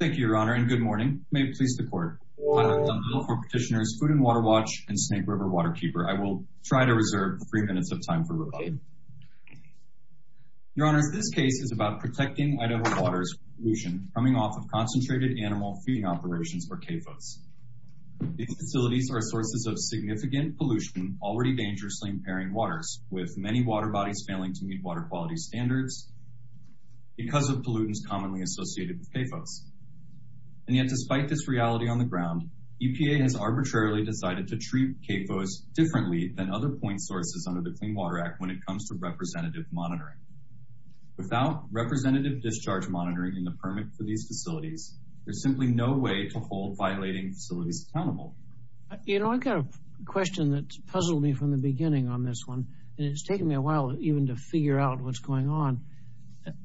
Thank you, Your Honor, and good morning. May it please the Court. I'm Phil from Petitioners Food & Water Watch and Snake River Waterkeeper. I will try to reserve three minutes of time for rebuttal. Your Honor, this case is about protecting Idaho water pollution coming off of concentrated animal feeding operations, or CAFOs. These facilities are sources of significant pollution, already dangerously impairing waters, with many water bodies failing to meet water quality standards because of pollutants commonly associated with CAFOs. And yet, despite this reality on the ground, EPA has arbitrarily decided to treat CAFOs differently than other point sources under the Clean Water Act when it comes to representative monitoring. Without representative discharge monitoring and the permits for these facilities, there's simply no way to hold violating facilities accountable. You know, I've got a question that's puzzled me from the beginning on this one, and it's taken me a while even to figure out what's going on.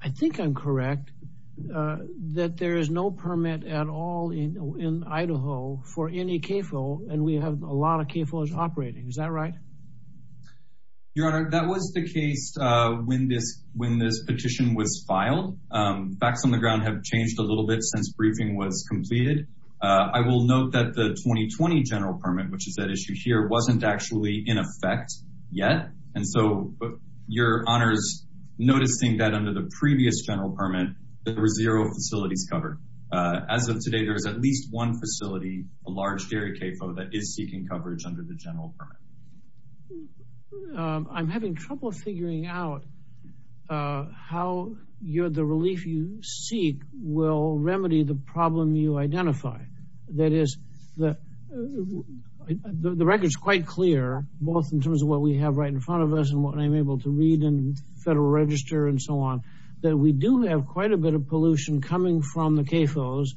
I think I'm correct that there is no permit at all in Idaho for any CAFO, and we have a lot of CAFOs operating. Is that right? Your Honor, that was the case when this petition was filed. Facts on the ground have changed a little bit since briefing was completed. I will note that the 2020 general permit, which is that issue here, wasn't actually in effect yet. And so, Your Honor is noticing that under the previous general permit, there were zero facilities covered. As of today, there is at least one facility, a large area CAFO, that is seeking coverage under the general permit. I'm having trouble figuring out how the relief you seek will remedy the problem you identify. That is, the record is quite clear, both in terms of what we have right in front of us and what I'm able to read in Federal Register and so on, that we do have quite a bit of pollution coming from the CAFOs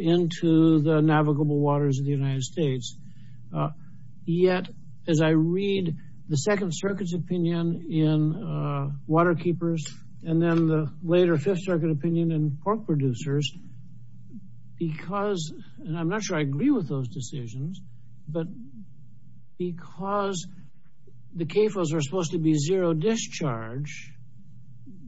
into the navigable waters of the United States. Yet, as I read the Second Circuit's opinion in water keepers, and then the later Fifth Circuit opinion in pork producers, because, and I'm not sure I agree with those decisions, but because the CAFOs are supposed to be zero discharge,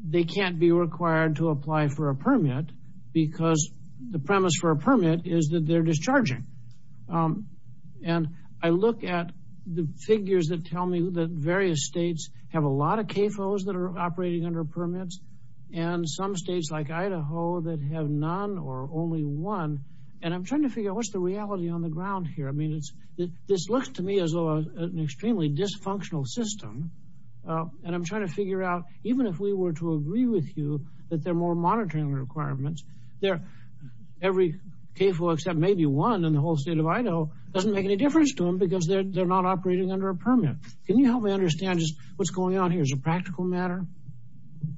they can't be required to apply for a permit because the premise for a permit is that they're discharging. And I look at the figures that tell me that various states have a lot of CAFOs that are operating under permits, and some states like Idaho that have none or only one. And I'm trying to figure out what's the reality on the ground here. I mean, this looks to me as though an extremely dysfunctional system. And I'm trying to figure out, even if we were to agree with you that there are more monitoring requirements, every CAFO except maybe one in the whole state of Idaho doesn't make any difference to them because they're not operating under a permit. Can you help me understand what's going on here as a practical matter?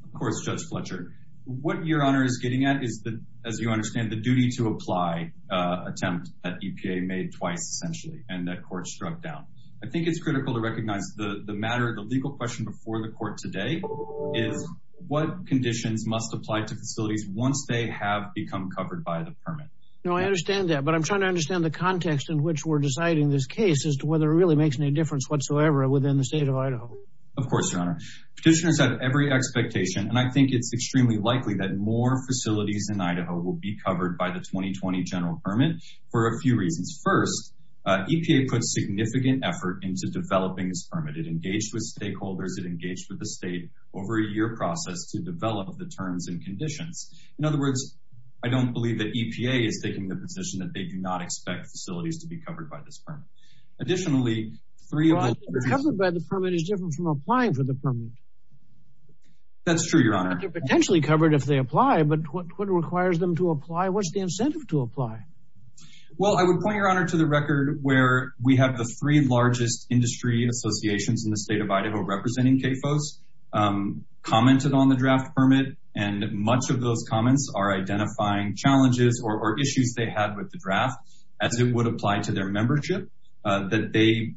Of course, Judge Fletcher. What Your Honor is getting at is, as you understand, the duty to apply attempt that EPA made twice, essentially, and that court struck down. I think it's critical to recognize the matter, the legal question before the court today is what conditions must apply to facilities once they have become covered by the permit. No, I understand that, but I'm trying to understand the context in which we're deciding this case as to whether it really makes any difference whatsoever within the state of Idaho. Of course, Your Honor. Petitioners have every expectation, and I think it's extremely likely, that more facilities in Idaho will be covered by the 2020 general permit for a few reasons. First, EPA put significant effort into developing this permit. It engaged with stakeholders. It engaged with the state over a year process to develop the terms and conditions. In other words, I don't believe that EPA is taking the position that they do not expect facilities to be covered by this permit. Additionally... Well, being covered by the permit is different from applying for the permit. That's true, Your Honor. They're potentially covered if they apply, but what requires them to apply? What's the incentive to apply? Well, I would point, Your Honor, to the record where we have the three largest industry associations in the state of Idaho representing CAFOs commented on the draft permit, and much of those comments are identifying challenges or issues they have with the draft as it would apply to their membership that they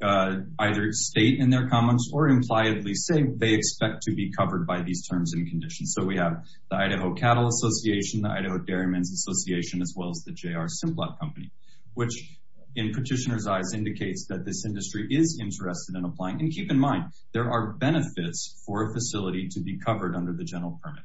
either state in their comments or impliably say they expect to be covered by these terms and conditions. So we have the Idaho Cattle Association, the Idaho Dairymen's Association, as well as the J.R. Simplot Company, which in petitioners' eyes indicates that this industry is interested in applying. And keep in mind, there are benefits for a facility to be covered under the general permit.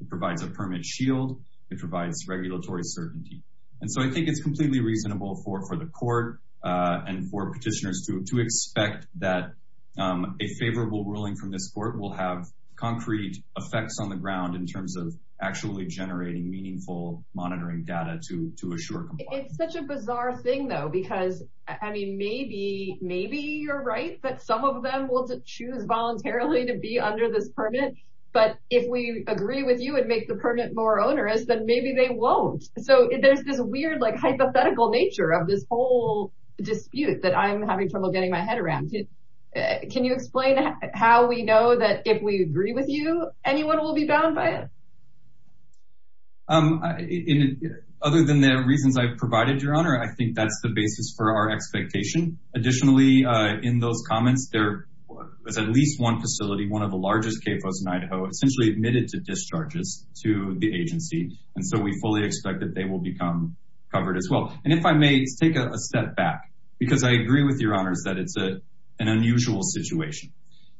It provides a permit shield. It provides regulatory certainty. And so I think it's completely reasonable for the court and for petitioners to expect that a favorable ruling from this court will have concrete effects on the ground in terms of actually generating meaningful monitoring data to assure compliance. It's such a bizarre thing, though, because, I mean, maybe you're right that some of them will choose voluntarily to be under this permit, but if we agree with you it makes the permit more onerous, then maybe they won't. So there's this weird hypothetical nature of this whole dispute that I'm having trouble getting my head around. Can you explain how we know that if we agree with you, anyone will be bound by it? Other than the reasons I've provided, Your Honor, I think that's the basis for our expectation. Additionally, in those comments, there was at least one facility, one of the largest CAFOs in Idaho, essentially admitted to discharges to the agency, and so we fully expect that they will become covered as well. And if I may take a step back, because I agree with Your Honor that it's an unusual situation,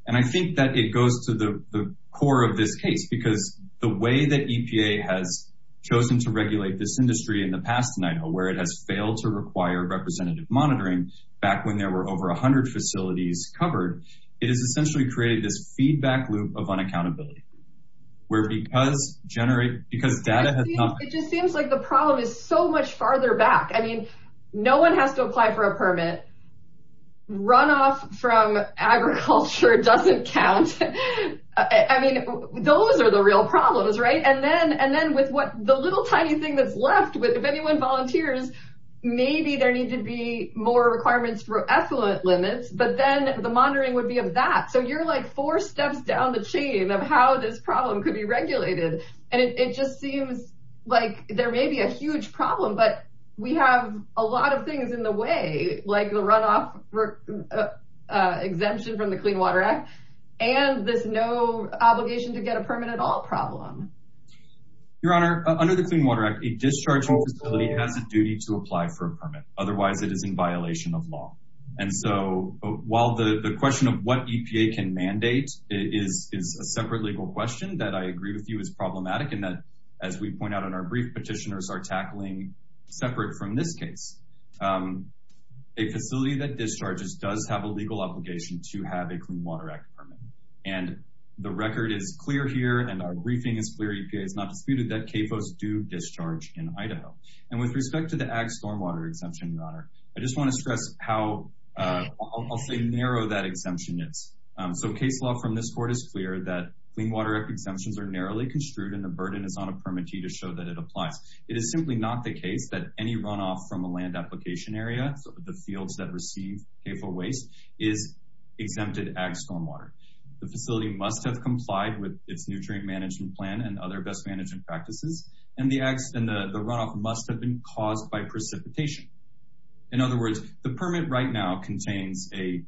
and I think that it goes to the core of this case because the way that EPA has chosen to regulate this industry in the past, in Idaho, where it has failed to require representative monitoring back when there were over 100 facilities covered, it has essentially created this feedback loop of unaccountability where because data has not... It just seems like the problem is so much farther back. I mean, no one has to apply for a permit. Runoff from agriculture doesn't count. I mean, those are the real problems, right? And then with the little tiny thing that's left, if anyone volunteers, maybe there need to be more requirements for effluent limits, but then the monitoring would be a bat. So you're like four steps down the chain of how this problem could be regulated, and it just seems like there may be a huge problem, but we have a lot of things in the way, like the runoff exemption from the Clean Water Act and this no obligation to get a permit at all problem. Your Honor, under the Clean Water Act, a dischargeable facility has a duty to apply for a permit, otherwise it is in violation of law. And so while the question of what EPA can mandate is a separate legal question that I agree with you is problematic and that, as we point out in our brief, petitioners are tackling separate from this case. A facility that discharges does have a legal obligation to have a Clean Water Act permit. And the record is clear here, and our briefing is clear, EPA has not disputed that CAFOs do discharge in Idaho. And with respect to the Ag Stormwater Exemption, Your Honor, I just want to stress how, I'll say, narrow that exemption is. So case law from this court is clear that Clean Water Act exemptions are narrowly construed and the burden is on a permitee to show that it applies. It is simply not the case that any runoff from a land application area, so the fields that receive CAFO waste, is exempted Ag Stormwater. The facility must have complied with its nutrient management plan and other best management practices, and the runoff must have been caused by precipitation. In other words, the permit right now contains a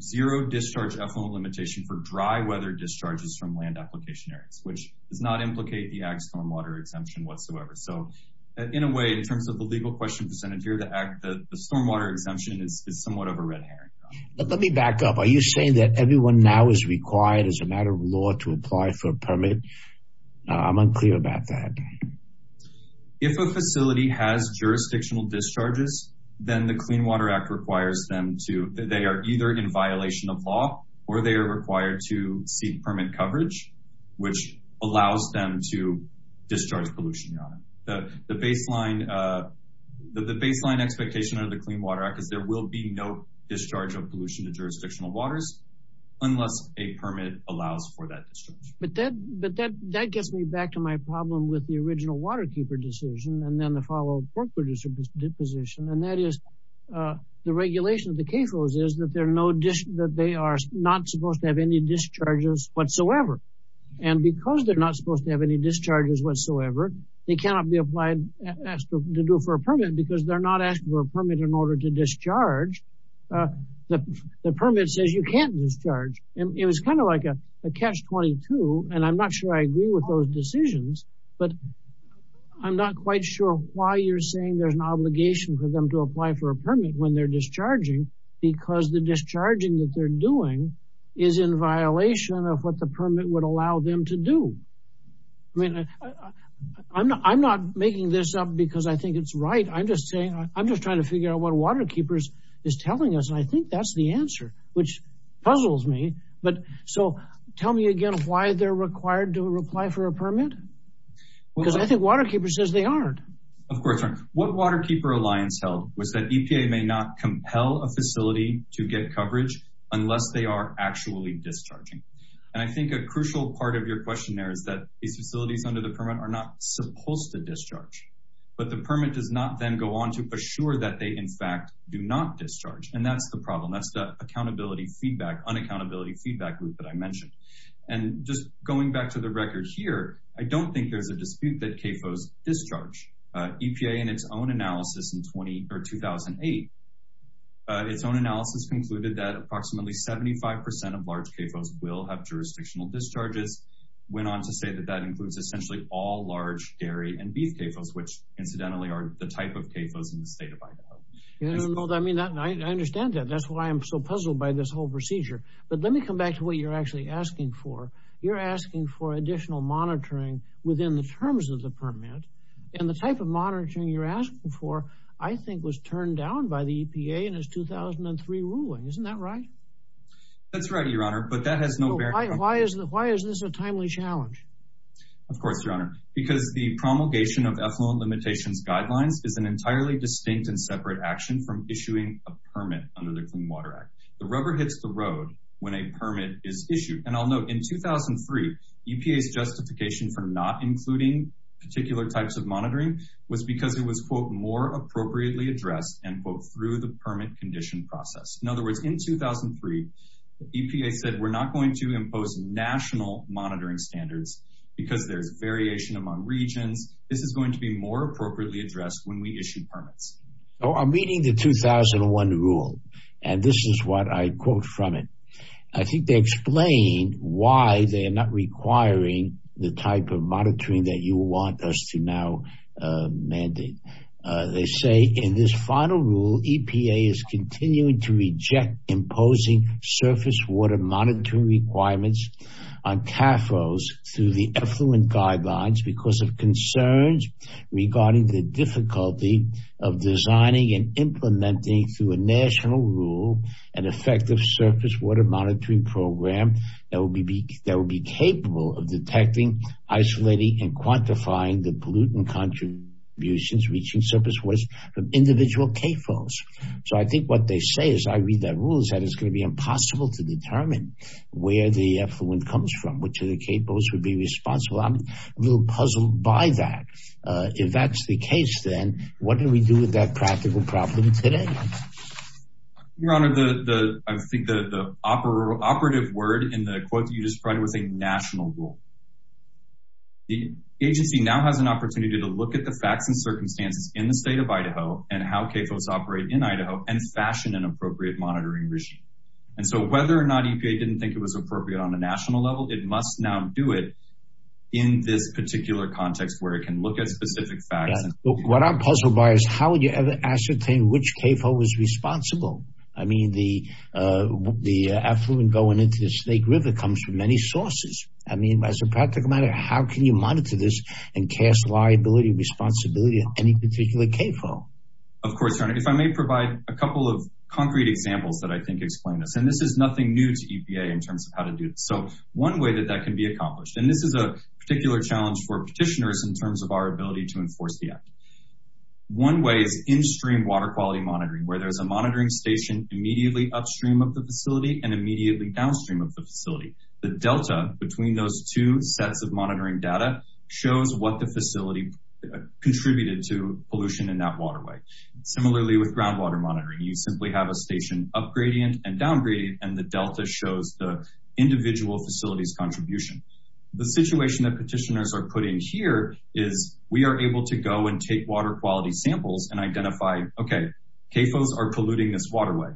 zero-discharge ethanol limitation for dry weather discharges from land application areas, which does not implicate the Ag Stormwater Exemption whatsoever. So in a way, in terms of the legal question presented here, the stormwater exemption is somewhat of a red herring. Let me back up. Are you saying that everyone now is required, as a matter of law, to apply for a permit? I'm unclear about that. If a facility has jurisdictional discharges, then the Clean Water Act requires them to, they are either in violation of law or they are required to seek permit coverage, which allows them to discharge pollution. The baseline expectation of the Clean Water Act is there will be no discharge of pollution to jurisdictional waters unless a permit allows for that discharge. But that gets me back to my problem with the original waterkeeper decision and then the follow-up corporate position, and that is the regulation of the CAFOs is that they are not supposed to have any discharges whatsoever. And because they're not supposed to have any discharges whatsoever, they cannot be applied to do it for a permit because they're not asking for a permit in order to discharge. The permit says you can't discharge. And it was kind of like a catch-22, and I'm not sure I agree with those decisions, but I'm not quite sure why you're saying there's an obligation for them to apply for a permit when they're discharging because the discharging that they're doing is in violation of what the permit would allow them to do. I mean, I'm not making this up because I think it's right. I'm just saying I'm just trying to figure out what a waterkeeper is telling us, and I think that's the answer, which puzzles me. But so tell me again why they're required to apply for a permit because I think waterkeepers says they aren't. Of course, what Waterkeeper Alliance held was that EPA may not compel a facility to get coverage unless they are actually discharging. And I think a crucial part of your question there is that these facilities under the permit are not supposed to discharge, but the permit does not then go on to assure that they, in fact, do not discharge. And that's the problem. That's the accountability feedback, unaccountability feedback loop that I mentioned. And just going back to the record here, I don't think there's a dispute that CAFOs discharge. EPA in its own analysis in 2008, its own analysis concluded that approximately 75% of large CAFOs will have jurisdictional discharges. Went on to say that that includes essentially all large dairy and beef CAFOs, which incidentally are the type of CAFOs in the state of Idaho. I understand that. That's why I'm so puzzled by this whole procedure. But let me come back to what you're actually asking for. You're asking for additional monitoring within the terms of the permit and the type of monitoring you're asking for, I think was turned down by the EPA in its 2003 ruling. Isn't that right? That's right, Your Honor, but that has no bearing. Why is this a timely challenge? Of course, Your Honor, because the promulgation of ethanol limitations guidelines is an entirely distinct and separate action from issuing a permit under the Clean Water Act. The rubber hits the road when a permit is issued. And I'll note, in 2003, EPA's justification for not including particular types of monitoring was because it was, quote, more appropriately addressed, end quote, through the permit condition process. In other words, in 2003, EPA said we're not going to impose national monitoring standards because there's variation among regions. This is going to be more appropriately addressed when we issue permits. I'm reading the 2001 rule, and this is what I quote from it. I think they explain why they're not requiring the type of monitoring that you want us to now mandate. They say, in this final rule, EPA is continuing to reject imposing surface water monitoring requirements on TAFOs through the effluent guidelines because of concerns regarding the difficulty of designing and implementing, through a national rule, an effective surface water monitoring program that would be capable of detecting, isolating, and quantifying the pollutant contributions reaching surface waters from individual TAFOs. So I think what they say, as I read that rule, is that it's going to be impossible to determine where the effluent comes from, which of the TAFOs would be responsible. I'm a little puzzled by that. If that's the case, then, what do we do with that practical problem today? Your Honor, I think the operative word in the quote you just read was a national rule. The agency now has an opportunity to look at the facts and circumstances in the state of Idaho and how TAFOs operate in Idaho and fashion an appropriate monitoring regime. And so whether or not EPA didn't think it was appropriate on a national level, it must now do it in this particular context where it can look at specific facts. What I'm puzzled by is how you ascertain which TAFO was responsible. I mean, the effluent going into the Snake River comes from many sources. I mean, as a practical matter, how can you monitor this and cast liability and responsibility on any particular TAFO? Of course, Your Honor. If I may provide a couple of concrete examples that I think explain this. And this is nothing new to EPA in terms of how to do this. So one way that that can be accomplished, and this is a particular challenge for petitioners in terms of our ability to enforce the act. One way is in-stream water quality monitoring where there's a monitoring station immediately upstream of the facility and immediately downstream of the facility. The delta between those two sets of monitoring data shows what the facility contributed to pollution in that waterway. Similarly with groundwater monitoring, you simply have a station up-gradient and down-gradient, and the delta shows the individual facility's contribution. The situation that petitioners are put in here is we are able to go and take water quality samples and identify, okay, TAFOs are polluting this waterway,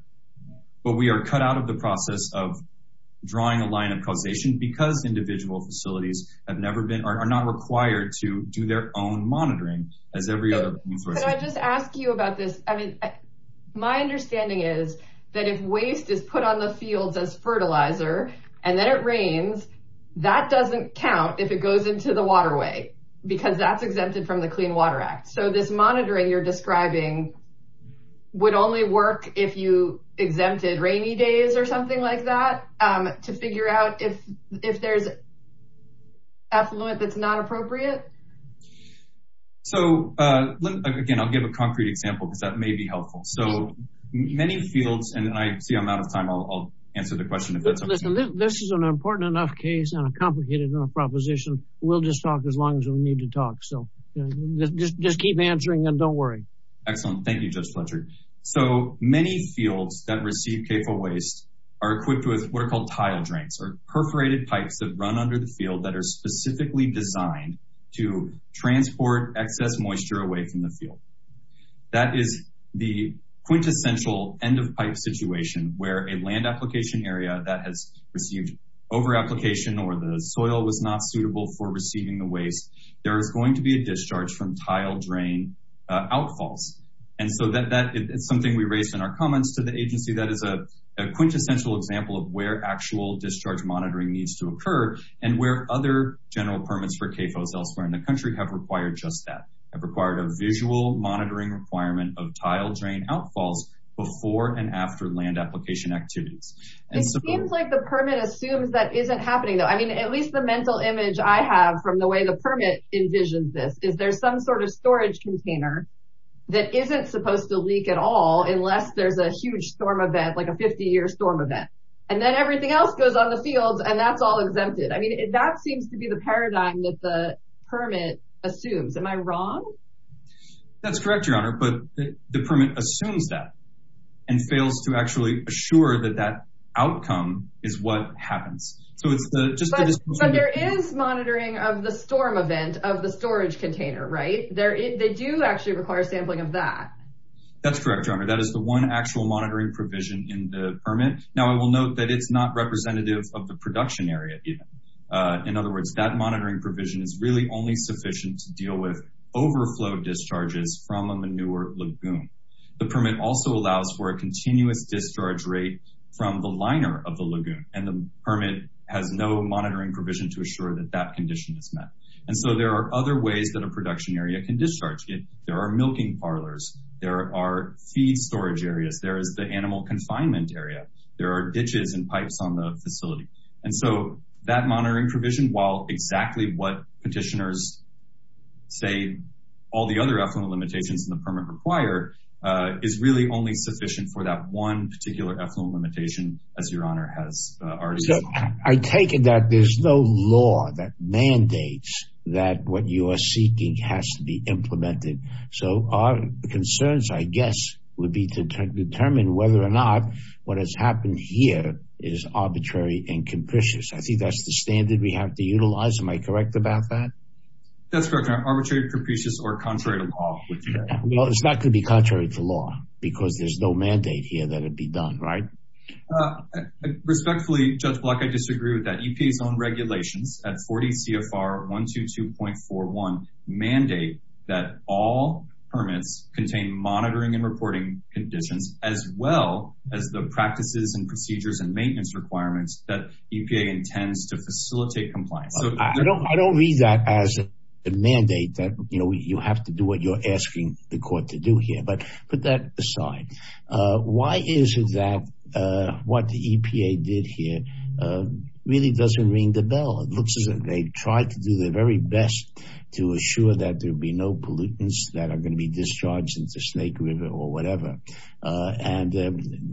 but we are cut out of the process of drawing a line of causation because individual facilities have never been, or are not required to do their own monitoring as every other... Can I just ask you about this? I mean, my understanding is that if waste is put on the field as fertilizer and then it rains, that doesn't count if it goes into the waterway. Because that's exempted from the Clean Water Act. So this monitoring you're describing would only work if you exempted rainy days or something like that to figure out if there's effluent that's not appropriate. So, again, I'll give a concrete example, but that may be helpful. So many fields, and I see I'm out of time. I'll answer the question if that's okay. This is an important enough case and a complicated enough proposition. We'll just talk as long as we need to talk. So just keep answering them. Don't worry. Excellent. Thank you, Judge Fletcher. So many fields that receive capable waste are equipped with what are called tile drains or perforated pipes that run under the field that are specifically designed to transport excess moisture away from the field. That is the quintessential end of pipe situation where a land application area that has received over application or the soil that's not suitable for receiving the waste, there is going to be a discharge from tile drain outfalls. And so that is something we raised in our comments to the agency that is a quintessential example of where actual discharge monitoring needs to occur and where other general permits for CAFOs elsewhere in the country have required just that, have required a visual monitoring requirement of tile drain outfalls before and after land application activities. It seems like the permit assumes that isn't happening. I mean, at least the mental image I have from the way the permit envisions this is there's some sort of storage container that isn't supposed to leak at all unless there's a huge storm event, like a 50-year storm event. And then everything else goes on the field and that's all exempted. I mean, that seems to be the paradigm that the permit assumes. Am I wrong? That's correct, Your Honor, but the permit assumes that and fails to actually assure that that outcome is what happens. But there is monitoring of the storm event of the storage container, right? They do actually require sampling of that. That's correct, Your Honor. That is the one actual monitoring provision in the permit. Now I will note that it's not representative of the production area. In other words, that monitoring provision is really only sufficient to deal with overflow discharges from a manure lagoon. The permit also allows for a continuous discharge rate from the liner of the lagoon and the permit has no monitoring provision to assure that that condition is met. And so there are other ways that a production area can discharge. There are milking parlors. There are feed storage areas. There is the animal confinement area. There are ditches and pipes on the facility. And so that monitoring provision, while exactly what petitioners say, all the other echelon limitations in the permit require, is really only sufficient for that one particular echelon limitation, as Your Honor has already said. I take it that there's no law that mandates that what you are seeking has to be implemented. So our concerns, I guess, would be to determine whether or not what has happened here is arbitrary and capricious. I think that's the standard we have to utilize. Am I correct about that? That's correct, Your Honor. Arbitrary, capricious, or contrary to law. Well, it's not going to be contrary to law because there's no mandate here that it be done, right? Respectfully, Judge Block, I disagree with that. EPA's own regulations at 40 CFR 122.41 mandate that all permits contain monitoring and reporting conditions as well as the practices and procedures and maintenance requirements that EPA intends to facilitate compliance. I don't read that as a mandate that you have to do what you're asking the court to do here, but put that aside. Why is it that what the EPA did here really doesn't ring the bell? It looks as if they tried to do their very best to assure that there'd be no pollutants that are going to be discharged into Snake River or whatever, and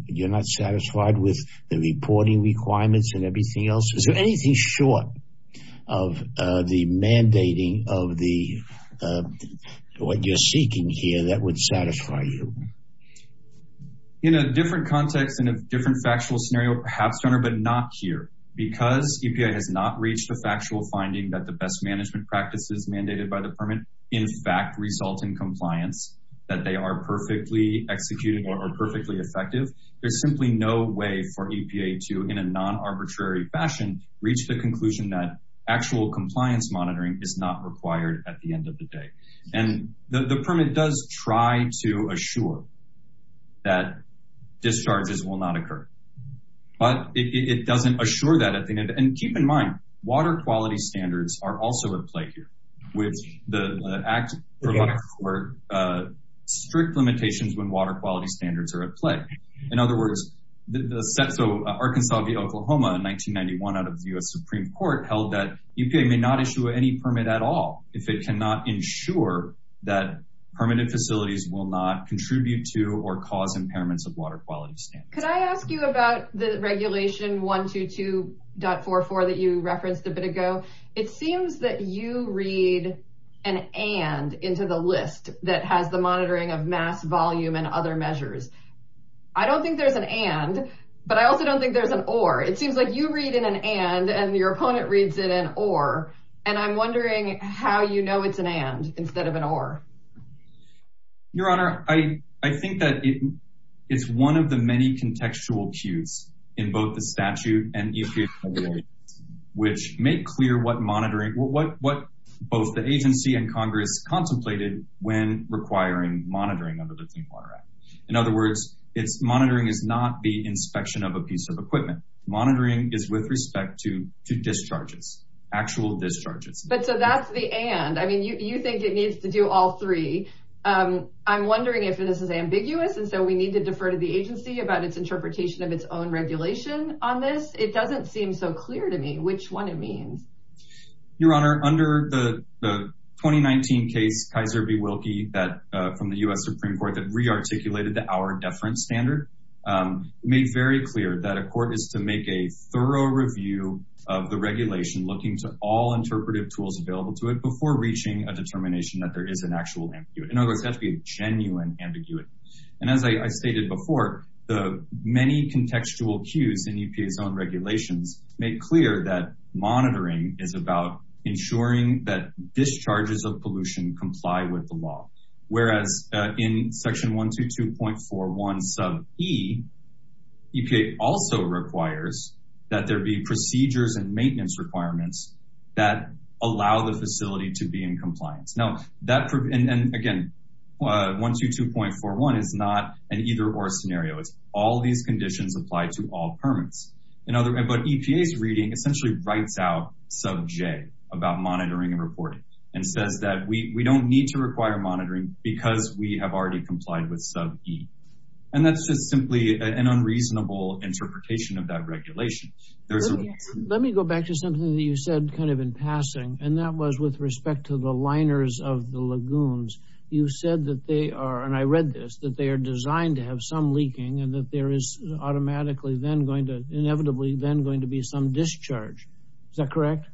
you're not satisfied with the reporting requirements and everything else? Is there anything short of the mandating of what you're seeking here that would satisfy you? In a different context, in a different factual scenario perhaps, but not here. Because EPA has not reached a factual finding that the best management practices mandated by the permit in fact result in compliance, that they are perfectly executed or perfectly effective, there's simply no way for EPA to, in a non-arbitrary fashion, reach the conclusion that actual compliance monitoring is not required at the end of the day. And the permit does try to assure that discharges will not occur, but it doesn't assure that. And keep in mind, water quality standards are also at play here, with the Act or the Water Court strict limitations when water quality standards are at play. In other words, the Arkansas v. Oklahoma in 1991 out of the U.S. Supreme Court held that EPA may not issue any permit at all if it cannot ensure that permitted facilities will not contribute to or cause impairments of water quality standards. Could I ask you about the Regulation 122.44 that you referenced a bit ago? It seems that you read an and into the list that has the monitoring of mass, volume, and other measures. I don't think there's an and, but I also don't think there's an or. It seems like you read in an and and your opponent reads in an or, and I'm wondering how you know it's an and instead of an or. Your Honor, I think that it's one of the many contextual cues in both the statute and EPA's regulations which make clear what monitoring, what both the agency and Congress contemplated when requiring monitoring of the Distinct Water Act. In other words, monitoring is not the inspection of a piece of equipment. Monitoring is with respect to discharges, actual discharges. But so that's the and. I mean, you think it needs to do all three. I'm wondering if this is ambiguous and so we need to defer to the agency about its interpretation of its own regulation on this. It doesn't seem so clear to me which one it means. Your Honor, under the 2019 case Kaiser v. Wilkie from the U.S. Supreme Court that re-articulated the hour deference standard made very clear that a court is to make a thorough review of the regulation looking to all interpretive tools available to it before reaching a determination that there is an actual ambiguity. In other words, that's the genuine ambiguity. And as I stated before, the many contextual cues in EPA's own regulations make clear that monitoring is about ensuring that discharges of pollution comply with the law. Whereas in section 122.41 sub e, EPA also requires that there be procedures and maintenance requirements that allow the facility to be in compliance. And again, 122.41 is not an either or scenario. All these conditions apply to all permits. But EPA's reading essentially writes out sub j about monitoring and reporting and says that we don't need to require monitoring because we have already complied with sub e. And that's just simply an unreasonable interpretation of that regulation. Let me go back to something that you said kind of in passing. And that was with respect to the liners of the lagoons. You said that they are, and I read this, that they are designed to have some leaking and that there is automatically then going to, inevitably then going to be some discharge. Is that correct?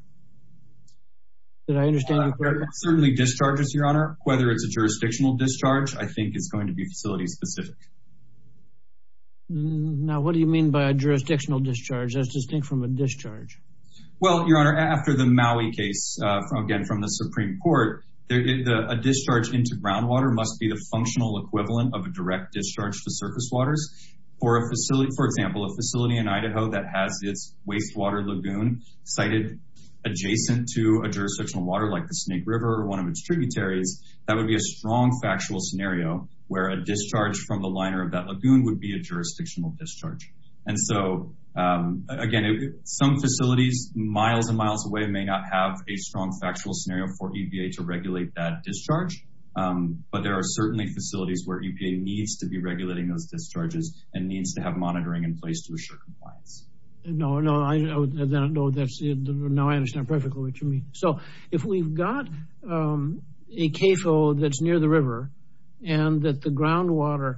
Did I understand that correctly? Certainly discharges, your honor. Whether it's a jurisdictional discharge, I think it's going to be facility specific. Now, what do you mean by a jurisdictional discharge? That's distinct from a discharge. Well, your honor, after the Maui case, again from the Supreme Court, a discharge into groundwater must be the functional equivalent of a direct discharge to surface waters. For a facility, for example, a facility in Idaho that has its wastewater lagoon sited adjacent to a jurisdictional water like the Snake River or one of its tributaries, that would be a strong factual scenario where a discharge from the liner of that lagoon would be a jurisdictional discharge. And so, again, some facilities miles and miles away may not have a strong factual scenario for EPA to regulate that discharge, but there are certainly facilities where EPA needs to be regulating those discharges and needs to have monitoring in place to assure compliance. No, no, I know, no, that's, now I understand perfectly what you mean. So if we've got a CAFO that's near the river and that the groundwater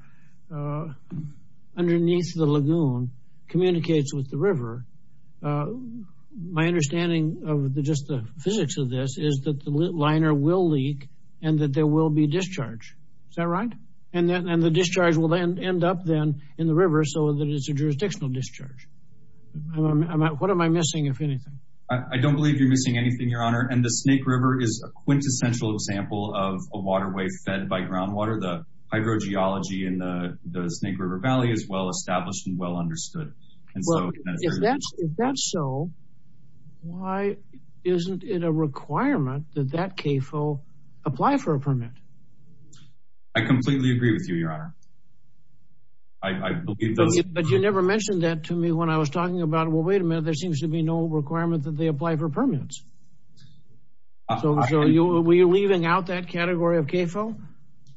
underneath the lagoon communicates with the river, my understanding of just the physics of this is that the liner will leak and that there will be discharge. Is that right? And the discharge will then end up then in the river so that it's a jurisdictional discharge. What am I missing, if anything? I don't believe you're missing anything, your honor. And the Snake River is a quintessential example of a waterway fed by groundwater. The hydrogeology in the Snake River Valley is well established and well understood. If that's so, why isn't it a requirement that that CAFO apply for a permit? I completely agree with you, your honor. But you never mentioned that to me when I was talking about, well, wait a minute, there seems to be no requirement that they apply for permits. So are we leaving out that category of CAFO?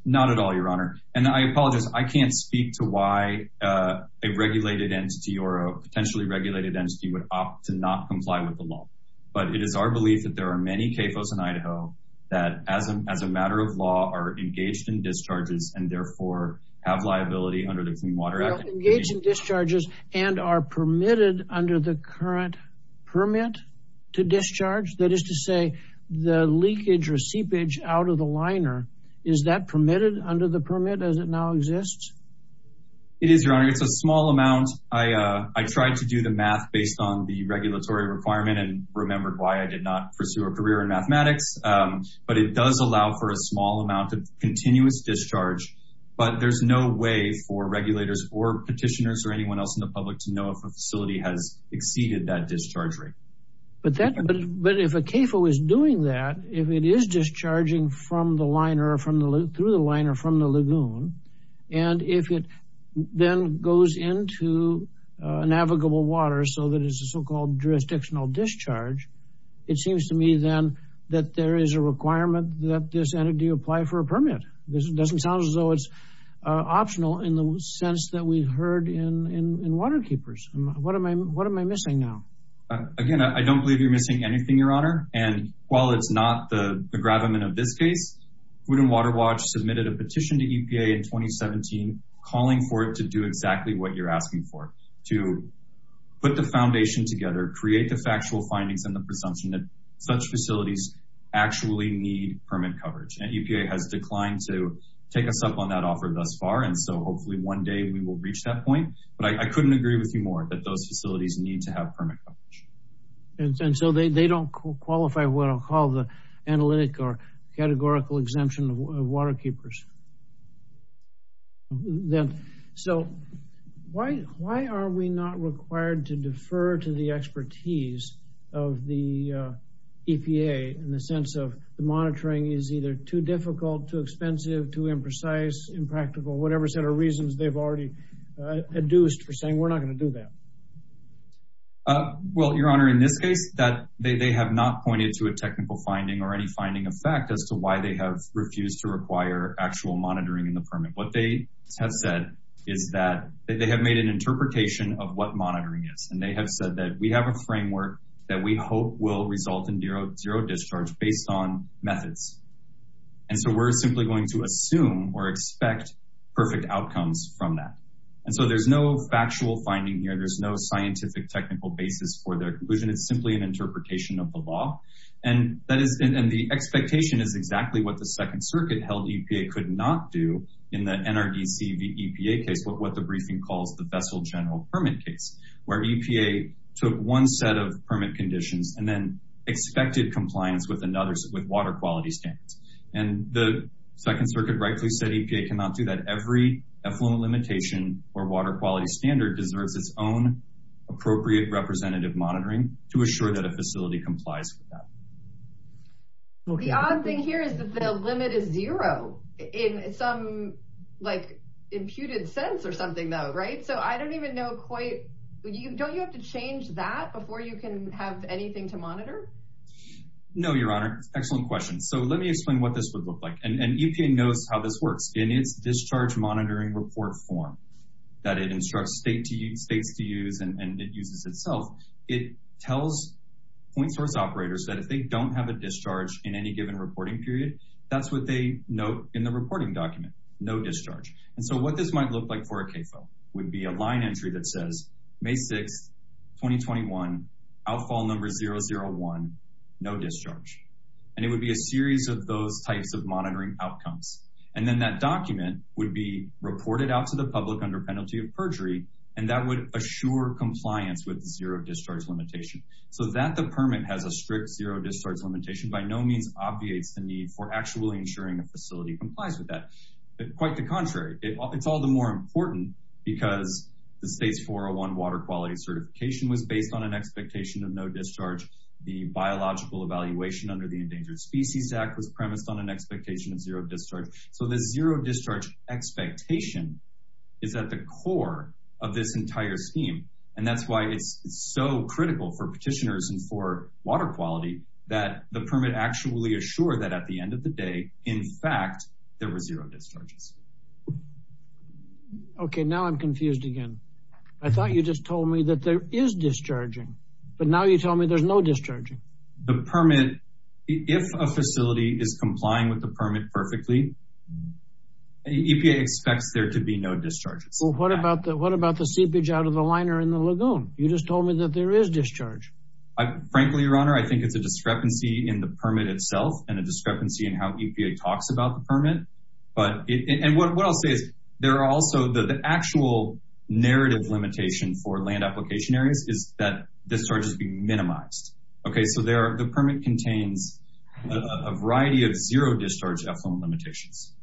Not at all, your honor. And I apologize, I can't speak to why a regulated entity or a potentially regulated entity would opt to not comply with the law. But it is our belief that there are many CAFOs in Idaho that as a matter of law are engaged in discharges and therefore have liability under the Clean Water Act. Engaged in discharges and are permitted under the current permit to discharge? That is to say the leakage or seepage out of the liner, is that permitted under the permit as it now exists? It is, your honor. It's a small amount. I tried to do the math based on the regulatory requirement and remembered why I did not pursue a career in mathematics. But it does allow for a small amount of continuous discharge. But there's no way for regulators or petitioners or anyone else in the public to know if a facility has exceeded that discharge rate. But if a CAFO is doing that, if it is discharging through the liner from the lagoon, and if it then goes into navigable water so that it's a so-called jurisdictional discharge, it seems to me then that there is a requirement that this entity apply for a permit. This doesn't sound as though it's optional in the sense that we've heard in Waterkeepers. What am I missing now? Again, I don't believe you're missing anything, your honor. And while it's not the grab-em-in-a-biscuit, Wooden Water Watch submitted a petition to EPA in 2017 calling for it to do exactly what you're asking for, to put the foundation together, create the factual findings and the presumption that such facilities actually need permit coverage. And EPA has declined to take a step on that offer thus far and so hopefully one day we will reach that point. But I couldn't agree with you more that those facilities need to have permit coverage. And so they don't qualify what I'll call the analytic or categorical exemption of Waterkeepers. So why are we not required to defer to the expertise of the EPA in the sense of the monitoring is either too difficult, too expensive, too imprecise, impractical, whatever set of reasons they've already induced for saying we're not going to do that. Well, your honor, in this case, they have not pointed to a technical finding or any finding of fact as to why they have refused to require actual monitoring in the permit. What they have said is that they have made an interpretation of what monitoring is. And they have said that we have a framework that we hope will result in zero discharge based on methods. And so we're simply going to assume or expect perfect outcomes from that. And so there's no factual finding here. There's no scientific technical basis for their conclusion. It's simply an interpretation of the law. And the expectation is exactly what the Second Circuit held EPA could not do in the NRDC v. EPA case, what the briefing calls the Vessel General Permit Case, where EPA took one set of permit conditions and then expected compliance with another, and the Second Circuit rightly said EPA cannot do that. Every employment limitation or water quality standard deserves its own appropriate representative monitoring to assure that a facility complies with that. The odd thing here is that the limit is zero in some, like, imputed sense or something, though, right? So I don't even know quite... Don't you have to change that before you can have anything to monitor? No, Your Honor. Excellent question. So let me explain what this would look like. And EPA knows how this works. In its discharge monitoring report form that it instructs states to use and it uses itself, it tells point source operators that if they don't have a discharge in any given reporting period, that's what they note in the reporting document, no discharge. And so what this might look like for a case, though, would be a line entry that says May 6, 2021, outfall number 001, no discharge. And it would be a series of those types of monitoring outcomes. And then that document would be reported out to the public under penalty of perjury, and that would assure compliance with the zero discharge limitation. So that the permit has a strict zero discharge limitation by no means obviates the need for actually ensuring a facility complies with that. Quite the contrary. It's all the more important because the state's 401 water quality certification was based on an expectation of no discharge. The biological evaluation under the Endangered Species Act was premised on an expectation of zero discharge. So the zero discharge expectation is at the core of this entire scheme. And that's why it's so critical for petitioners and for water quality, that the permit actually assured that at the end of the day, in fact, there were zero discharges. Okay, now I'm confused again. I thought you just told me that there is discharging, but now you tell me there's no discharging. The permit, if a facility is complying with the permit perfectly, EPA expects there to be no discharges. Well, what about the seepage out of the liner in the lagoon? You just told me that there is discharge. Frankly, Your Honor, I think it's a discrepancy in the permit itself and a discrepancy in how EPA talks about the permit. And what I'll say is, there are also the actual narrative limitation for land application areas is that discharges be minimized. Okay, so the permit contains a variety of zero-discharge employment limitations.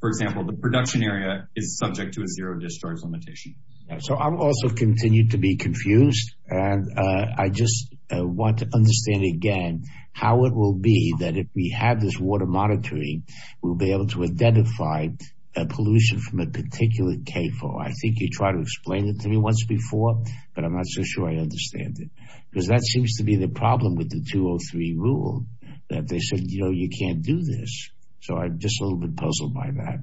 For example, the production area is subject to a zero-discharge limitation. So I'll also continue to be confused. And I just want to understand again how it will be that if we have this water monitoring, we'll be able to identify pollution from a particular KFAR. I think you tried to explain it to me once before, but I'm not so sure I understand it. Because that seems to be the problem with the 203 rule that they said, you know, you can't do this. So I'm just a little bit puzzled by that.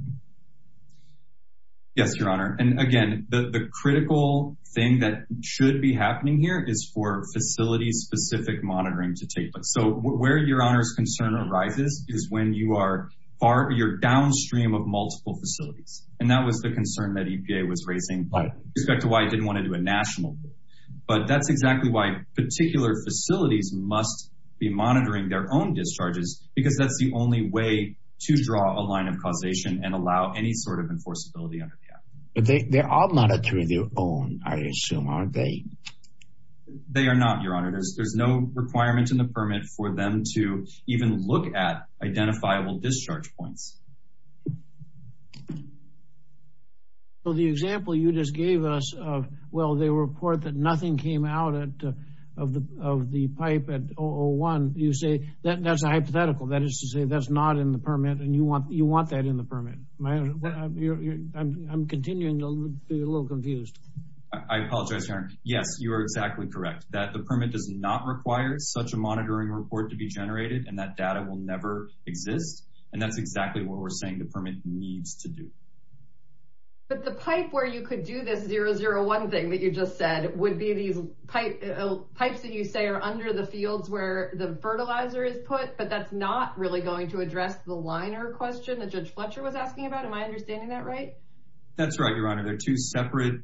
Yes, Your Honor. And again, the critical thing that should be happening here is for facility-specific monitoring to take place. So where Your Honor's concern arises is when you are downstream of multiple facilities. And that was the concern that EPA was raising with respect to why it didn't want to do a national one. But that's exactly why particular facilities must be monitoring their own discharges because that's the only way to draw a line of causation and allow any sort of enforceability under KFAR. But they are monitoring their own, I assume, aren't they? They are not, Your Honor. There's no requirements in the permit for them to even look at identifiable discharge points. So the example you just gave us of, well, they report that nothing came out of the pipe at 001. You say that's a hypothetical. That is to say that's not in the permit and you want that in the permit. I'm continuing to be a little confused. I apologize, Your Honor. Yes, you are exactly correct. That the permit does not require such a monitoring report to be generated and that data will never exist. And that's exactly what we're saying the permit needs to do. But the pipe where you could do that 001 thing that you just said would be these pipes that you say are under the fields where the fertilizer is put, but that's not really going to address the liner question Am I understanding that right? That's right, Your Honor. There are two separate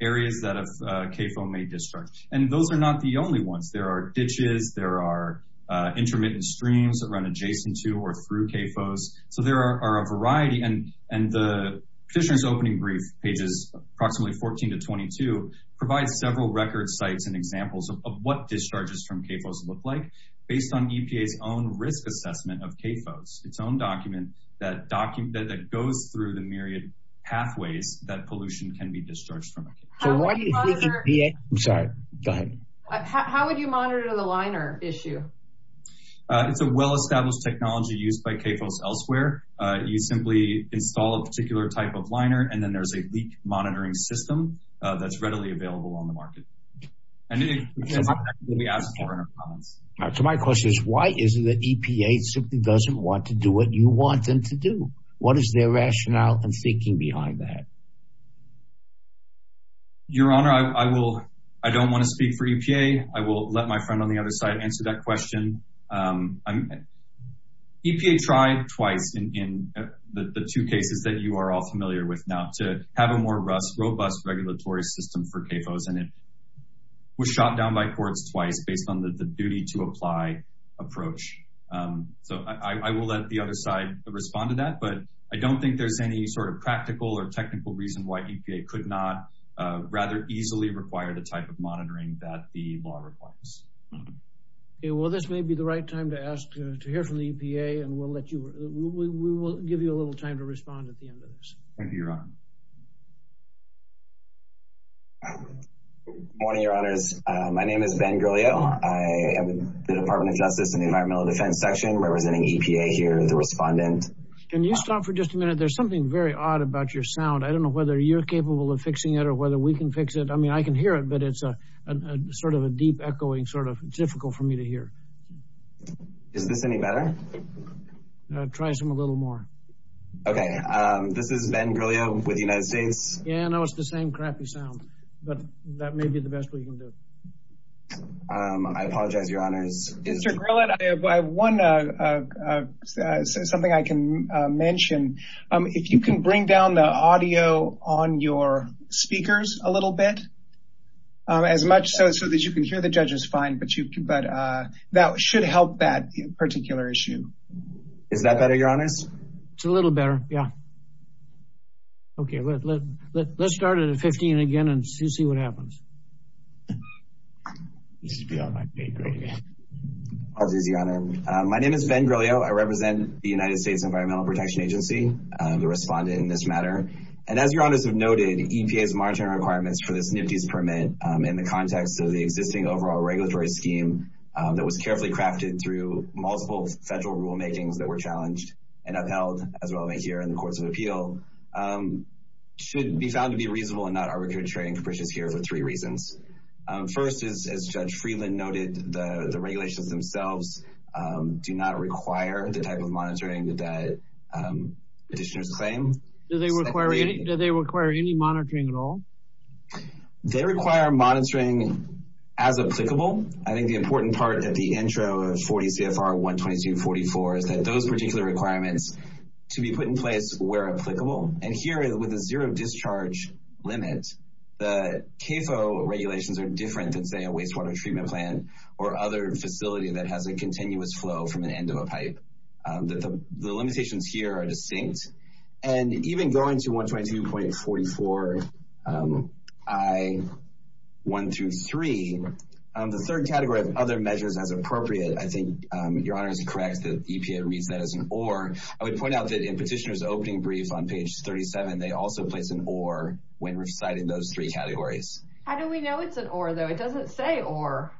areas that a CAFO may discharge and those are not the only ones. There are ditches. There are intermittent streams that run adjacent to or through CAFOs. So there are a variety and the petitioner's opening brief pages, approximately 14 to 22, provides several record sites and examples of what discharges from CAFOs look like based on EPA's own risk assessment of CAFOs, that go through the myriad pathways that pollution can be discharged from. How would you monitor the liner issue? It's a well-established technology used by CAFOs elsewhere. You simply install a particular type of liner and then there's a leak monitoring system that's readily available on the market. So my question is, why is it that EPA simply doesn't want to do what you want them to do? What is their rationale and thinking behind that? Your Honor, I don't want to speak for EPA. I will let my friend on the other side answer that question. EPA tried twice in the two cases that you are all familiar with now to have a more robust regulatory system for CAFOs and it was shot down by courts twice based on the duty to apply approach. So I will let the other side respond to that, but I don't think there's any sort of practical or technical reason why EPA could not rather easily require the type of monitoring that the law requires. Okay, well this may be the right time to ask to hear from the EPA and we'll let you, Thank you, Your Honor. Good morning, Your Honors. My name is Ben Gurleo. I am the Department of Justice in the Environmental Defense Section representing EPA here as a respondent. Can you stop for just a minute? There's something very odd about your sound. I don't know whether you're capable of fixing it or whether we can fix it. I mean, I can hear it, but it's a sort of a deep echoing sort of difficult for me to hear. Is this any better? Try some a little more. Okay, this is Ben Gurleo. What do you guys think? Yeah, no, it's the same crappy sound, but that may be the best way you can do it. I apologize, Your Honor. Mr. Grillett, I have one, something I can mention. If you can bring down the audio on your speakers a little bit, as much so that you can hear the judges fine, but that should help that particular issue. Is that better, Your Honor? It's a little better, yeah. Okay, let's start at 15 again and see what happens. My name is Ben Gurleo. I represent the United States Environmental Protection Agency, the respondent in this matter. And as Your Honor has noted, EPA's monitoring requirements for this new cease permit in the context of the existing overall regulatory scheme that was carefully crafted through multiple federal rulemakings that were challenged and upheld as well as here in the Court of Appeal should be found to be reasonable and not arbitrary and capricious here for three reasons. First, as Judge Friedland noted, the regulations themselves do not require the type of monitoring that petitioners claim. Do they require any monitoring at all? They require monitoring as applicable. I think the important part of the intro of 40 CFR 12244 is that those particular requirements to be put in place were applicable. And here, with a zero discharge limit, the CAFO regulations are different than, say, a wastewater treatment plant or other facility that has a continuous flow from the end of a pipe. The limitations here are distinct. And even going to 12244 I-123, the third category of other measures as appropriate, I think Your Honor is correct that EPA reads that as an or. I would point out that in petitioner's opening brief on page 37, they also place an or when recited in those three categories. How do we know it's an or, though? It doesn't say or.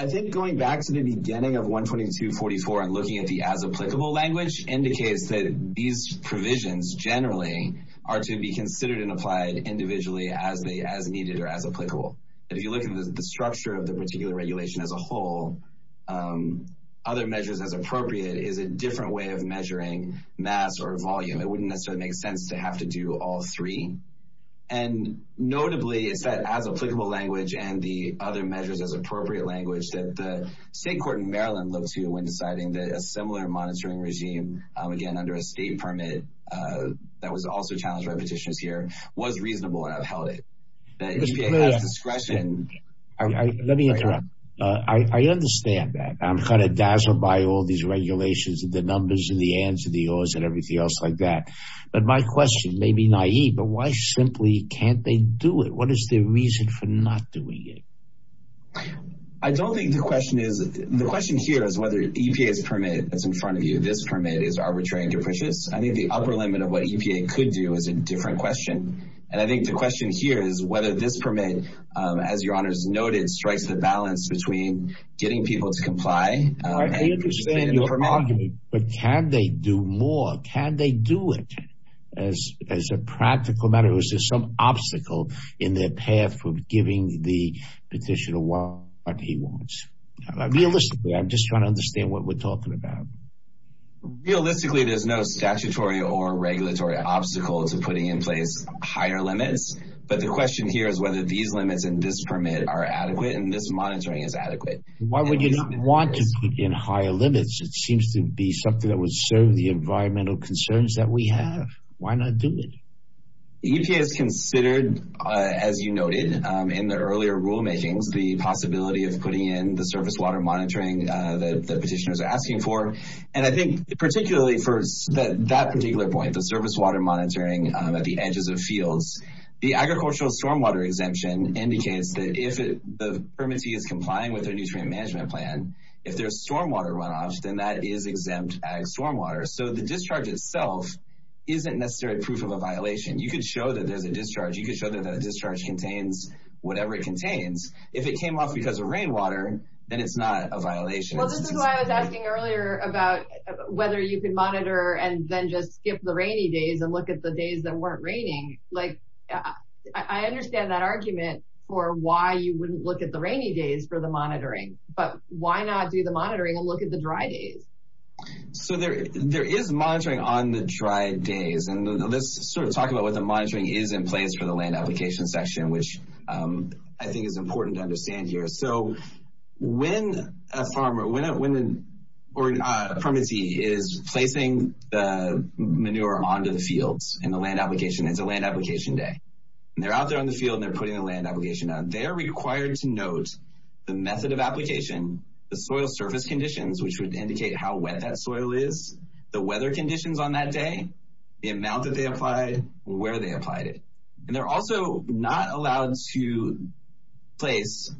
I think going back to the beginning of 12244 and looking at the as applicable language indicates that these provisions generally are to be considered and applied individually as needed or as applicable. If you look at the structure of the particular regulation as a whole, other measures as appropriate is a different way of measuring mass or volume. It wouldn't necessarily make sense to have to do all three. And notably, it's that as applicable language and the other measures as appropriate language that the state court in Maryland looks to when deciding that a similar monitoring regime, again, under a state permit that was also challenged by petitions here, was reasonable and outheld it. The EPA has discretion... Let me interrupt. I understand that. I'm kind of dazzled by all these regulations and the numbers and the ands and the ors and everything else like that. But my question may be naive, but why simply can't they do it? What is the reason for not doing it? I don't think the question is... The question here is whether EPA's permit that's in front of you, this permit, is arbitrary and judicious. I think the upper limit of what EPA could do is a different question. And I think the question here is whether this permit, as your honors noted, strikes a balance between getting people to comply... I understand your argument, but can they do more? Can they do it? As a practical matter, is there some obstacle in their path of giving the petitioner what he wants? Realistically, I'm just trying to understand what we're talking about. Realistically, there's no statutory or regulatory obstacle to putting in place higher limits. But the question here is whether these limits and this permit are adequate and this monitoring is adequate. Why would you not want to put in high limits? It seems to be something that would serve the environmental concerns that we have. Why not do it? EPA has considered, as you noted, in their earlier rulemaking, the possibility of putting in the surface water monitoring that the petitioners are asking for. And I think particularly for that particular point, the surface water monitoring at the edges of fields, the agricultural stormwater exemption indicates that if the permittee is complying with their nutrient management plan, if there's stormwater runoff, then that is exempt ag stormwater. So the discharge itself isn't necessarily proof of a violation. You can show that there's a discharge. You can show that that discharge contains whatever it contains. If it came up because of rainwater, then it's not a violation. This is why I was asking earlier about whether you could monitor and then just skip the rainy days and look at the days that weren't raining. I understand that argument for why you wouldn't look at the rainy days for the monitoring, but why not do the monitoring and look at the dry days? So there is monitoring on the dry days. And let's sort of talk about what the monitoring is in place for the land application section, which I think is important to understand here. So when a farmer or a permittee is placing manure onto the fields in the land application, it's a land application day. And they're out there in the field and they're putting a land application on. They are required to note the method of application, the soil surface conditions, which would indicate how wet that soil is, the weather conditions on that day, the amount that they applied, where they applied it. And they're also not allowed to place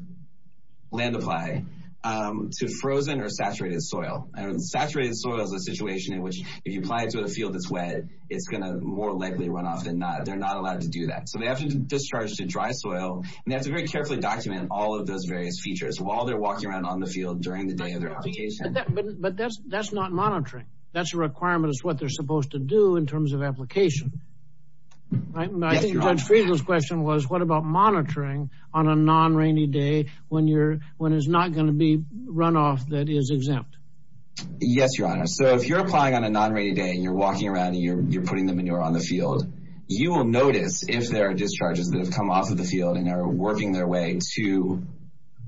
land apply to frozen or saturated soil. And saturated soil is a situation in which if you apply it to a field that's wet, it's going to more likely run off. They're not allowed to do that. So they have to discharge to dry soil and they have to very carefully document all of those various features while they're walking around on the field during the day of their application. But that's not monitoring. That's a requirement. It's what they're supposed to do in terms of application. I think Judge Friedland's question was what about monitoring on a non-rainy day when there's not going to be runoff that is exempt? Yes, Your Honor. So if you're applying on a non-rainy day and you're walking around and you're putting the manure on the field, you will notice if there are discharges that have come off of the field and are working their way to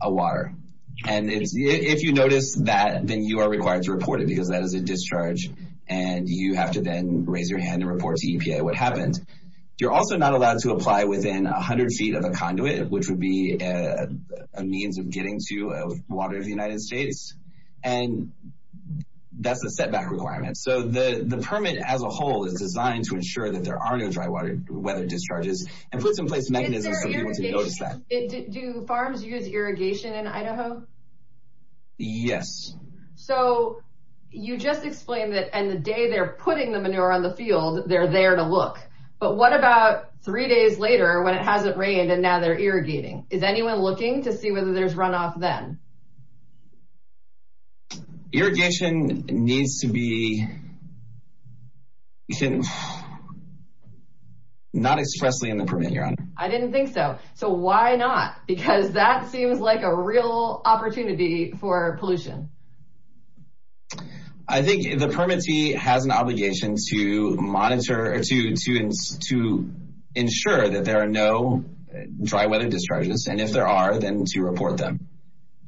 a water. And if you notice that, then you are required to report it because that is a discharge and you have to then raise your hand and report to EPA what happened. You're also not allowed to apply within 100 feet of a conduit, which would be a means of getting to water in the United States. And that's a setback requirement. So the permit as a whole is designed to ensure that there are no dry weather discharges and put in place mechanisms for people to notice that. Do farms use irrigation in Idaho? Yes. So you just explained that on the day they're putting the manure on the field, they're there to look. But what about three days later when it hasn't rained and now they're irrigating? Is anyone looking to see whether there's runoff then? Irrigation needs to be... not expressly in the permit. I didn't think so. So why not? Because that seems like a real opportunity for pollution. I think the permittee has an obligation to monitor, to ensure that there are no dry weather discharges and if there are, then to report them.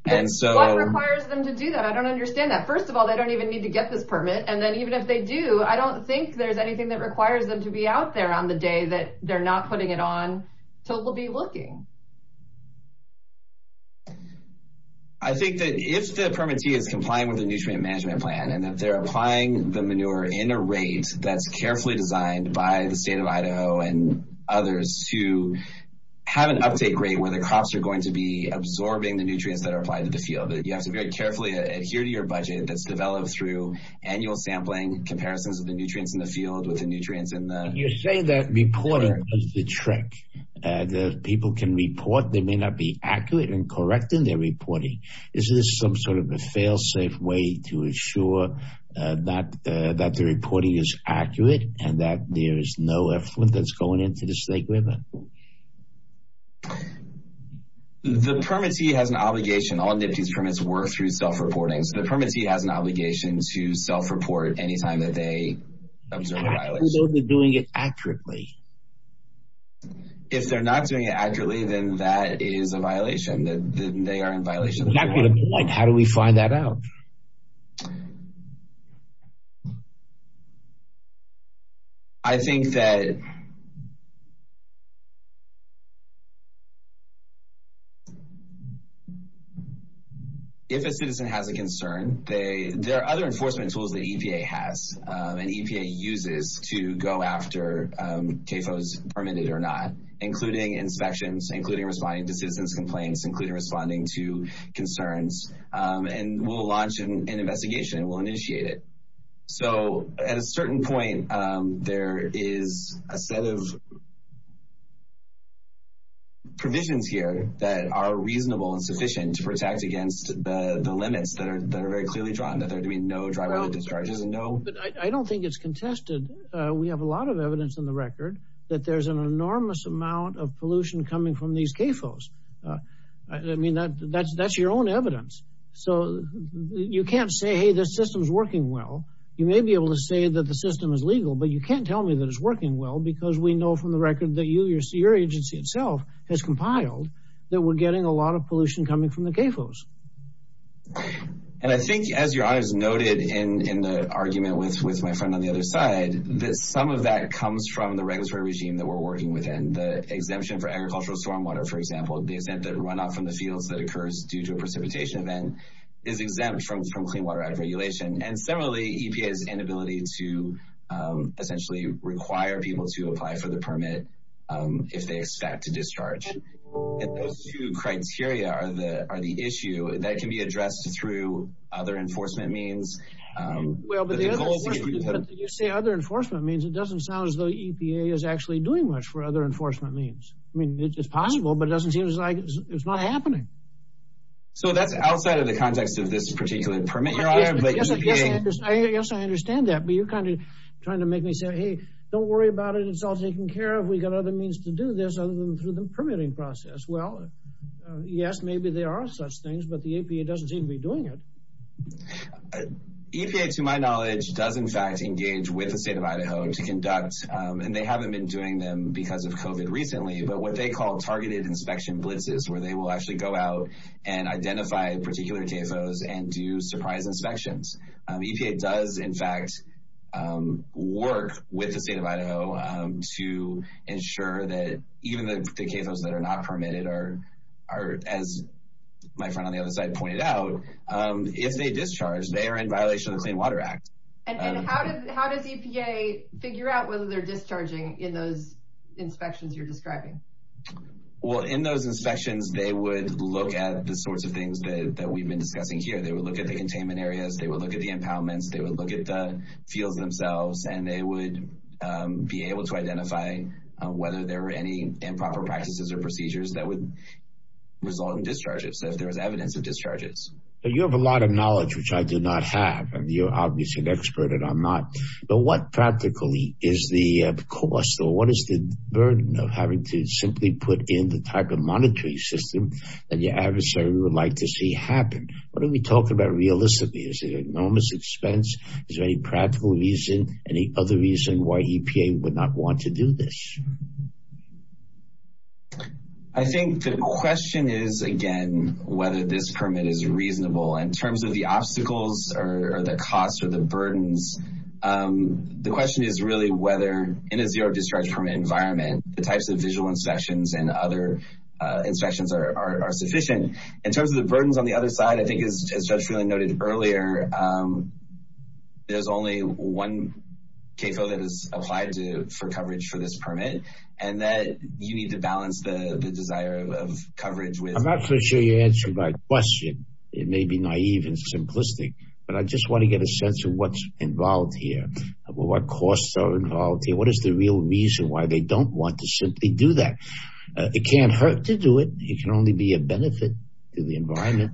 What requires them to do that? I don't understand that. First of all, they don't even need to get this permit. And then even if they do, I don't think there's anything that requires them to be out there on the day that they're not putting it on till we'll be looking. I think that if the permittee is complying with the nutrient management plan and that they're applying the manure in a rate that's carefully designed by the state of Idaho and others to have an uptake rate where the crops are going to be absorbing the nutrients that are applied to the field, that you have to very carefully adhere to your budget that's developed through annual sampling, comparisons of the nutrients in the field with the nutrients in the... You're saying that reporting is a trick and that if people can report, they may not be accurate in correcting their reporting. Is this some sort of a fail-safe way to ensure that the reporting is accurate and that there is no effort that's going into the Snake River? The permittee has an obligation. All NIFTYs permits work through self-reporting. The permittee has an obligation to self-report any time that they observe violations. How can those be doing it accurately? If they're not doing it accurately, then that is a violation. They are in violation. Exactly. How do we find that out? I think that... If a citizen has a concern, there are other enforcement tools that EPA has and EPA uses to go after CAFOs permitted or not, including inspections, including responding to citizens' complaints, including responding to concerns, and we'll launch an investigation. We'll initiate it. So at a certain point, there is a set of provisions here that are reasonable and sufficient to protect against the limits that are very clearly drawn, that there can be no driver-related discharges. But I don't think it's contested. We have a lot of evidence on the record that there's an enormous amount of pollution coming from these CAFOs. I mean, that's your own evidence. So you can't say, hey, this system's working well. You may be able to say that the system is legal, but you can't tell me that it's working well because we know from the record that your agency itself has compiled that we're getting a lot of pollution coming from the CAFOs. And I think, as your honor has noted in the argument with my friend on the other side, that some of that comes from the regulatory regime that we're working within. The exemption for agricultural stormwater, for example, the event that a runoff from the field that occurs due to a precipitation event is exempt from Clean Water Act regulation. And similarly, EPA's inability to essentially require people to apply for the permit if they expect to discharge. If those two criteria are the issue, that can be addressed through other enforcement means. When you say other enforcement means, it doesn't sound as though EPA is actually doing much for other enforcement means. I mean, it's possible, but it doesn't seem like it's not happening. So that's outside of the context of this particular permit, your honor. Yes, I understand that. But you're kind of trying to make me say, hey, don't worry about it. It's all taken care of. We've got other means to do this other than through the permitting process. Well, yes, maybe there are such things, but the EPA doesn't seem to be doing it. EPA, to my knowledge, does in fact engage with the State of Idaho to conduct, and they haven't been doing them because of COVID recently, but what they call targeted inspection blitzes, where they will actually go out and identify particular CAFOs and do surprise inspections. EPA does in fact work with the State of Idaho to ensure that even the CAFOs that are not permitted are, as my friend on the other side pointed out, if they discharge, they are in violation of the Clean Water Act. And how does EPA figure out whether they're discharging in those inspections you're describing? Well, in those inspections, they would look at the sorts of things that we've been discussing here. They would look at the containment areas, they would look at the impoundments, they would look at the fields themselves, and they would be able to identify whether there were any improper practices or procedures that would result in discharges, that there was evidence of discharges. You have a lot of knowledge, which I do not have, and you're obviously an expert and I'm not, but what practically is the cost or what is the burden of having to simply put in the type of monitoring system that the adversary would like to see happen? What are we talking about realistically? Is it enormous expense? Is there any practical reason, any other reason why EPA would not want to do this? I think the question is, again, whether this permit is reasonable. In terms of the obstacles or the costs or the burdens, the question is really whether in a zero-discharge permit environment, the types of visual inspections and other inspections are sufficient. In terms of the burdens on the other side, I think as Josh really noted earlier, there's only one K-code that is applied for coverage for this permit, and that you need to balance the desire of coverage with... I'm not so sure you answered my question. It may be naive and simplistic, but I just want to get a sense of what's involved here, what costs are involved, what is the real reason why they don't want to simply do that. It can't hurt to do it. It can only be a benefit to the environment.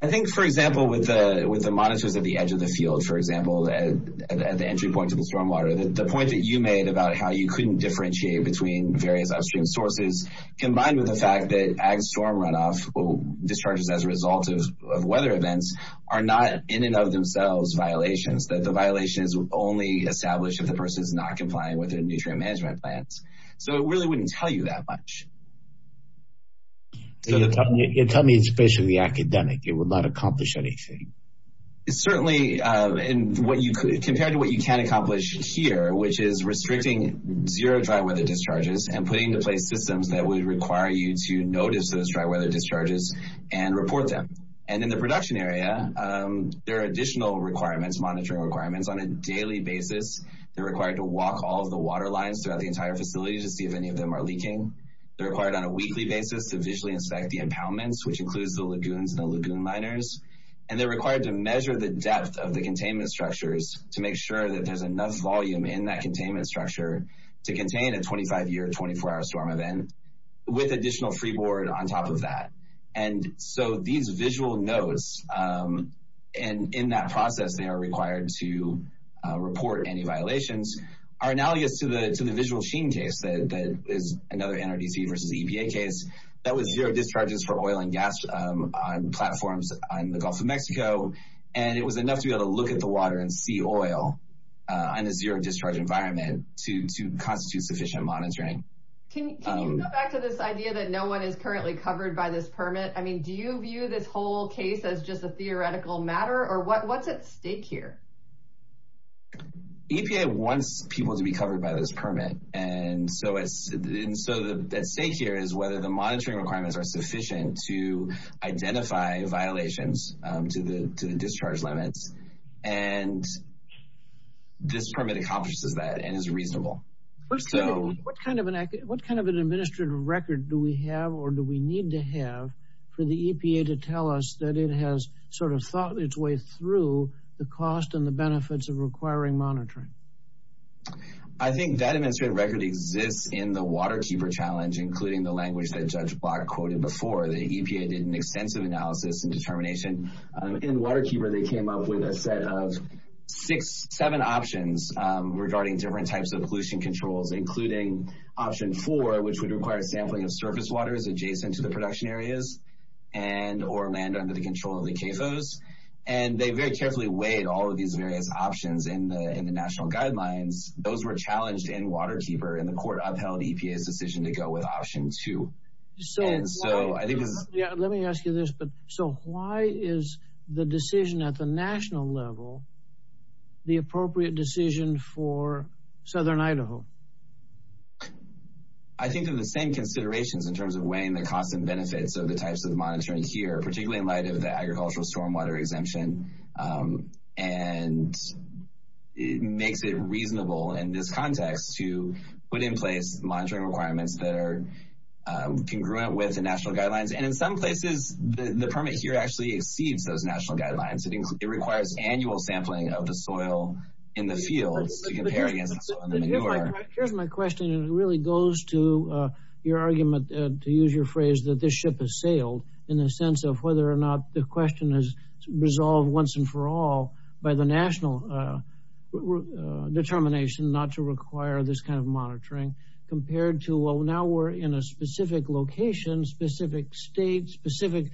I think, for example, with the monitors at the edge of the field, for example, at the entry point to the stormwater, the point that you made about how you couldn't differentiate between various upstream sources, combined with the fact that ag storm runoff will discharge as a result of weather events, are not in and of themselves violations, that the violations would only establish if the person is not complying with their nutrient management plans. So it really wouldn't tell you that much. Tell me it's basically academic. It would not accomplish anything. Certainly, compared to what you can accomplish here, which is restricting zero dry weather discharges and putting in place systems that would require you to notice those dry weather discharges and report them. And in the production area, there are additional requirements, monitoring requirements on a daily basis. You're required to walk all of the water lines throughout the entire facility to see if any of them are leaking. They're required on a weekly basis to visually inspect the impoundments, which includes the lagoons and the lagoon liners. And they're required to measure the depth of the containment structures to make sure that there's enough volume in that containment structure to contain a 25-year, 24-hour storm event with additional freeboard on top of that. And so these visual notes, and in that process they are required to report any violations, are analogous to the visual machine case that is another NRDC versus EPA case that was zero discharges for oil and gas on platforms on the Gulf of Mexico, and it was enough to be able to look at the water and see oil in a zero-discharge environment to constitute sufficient monitoring. Can you go back to this idea that no one is currently covered by this permit? I mean, do you view this whole case as just a theoretical matter, or what's at stake here? EPA wants people to be covered by this permit, and so at stake here is whether the monitoring requirements are sufficient to identify violations to the discharge limits, and this permit accomplishes that and is reasonable. What kind of an administrative record do we have or do we need to have for the EPA to tell us that it has sort of thought its way through the cost and the benefits of requiring monitoring? I think that administrative record exists in the Waterkeeper Challenge, including the language that Judge Block quoted before. The EPA did an extensive analysis and determination. In Waterkeeper, they came up with a set of seven options regarding different types of pollution controls, including option four, which would require sampling of surface water that's adjacent to the production areas and or manned under the control of the CAFOs, and they very carefully weighed all of these various options in the national guidelines. Those were challenged in Waterkeeper, and the court upheld EPA's decision to go with option two. Yeah, let me ask you this, but so why is the decision at the national level the appropriate decision for Southern Idaho? I think they're the same considerations in terms of weighing the cost and benefits of the types of monitoring here, particularly in light of the Agricultural Stormwater Exemption, and it makes it reasonable in this context to put in place monitoring requirements that are congruent with the national guidelines. And in some places, the permit here actually exceeds those national guidelines. It requires annual sampling of the soil in the field. Here's my question. It really goes to your argument, to use your phrase, that this ship has sailed, in the sense of whether or not the question is resolved once and for all by the national determination not to require this kind of monitoring, compared to, well, now we're in a specific location, specific state, specific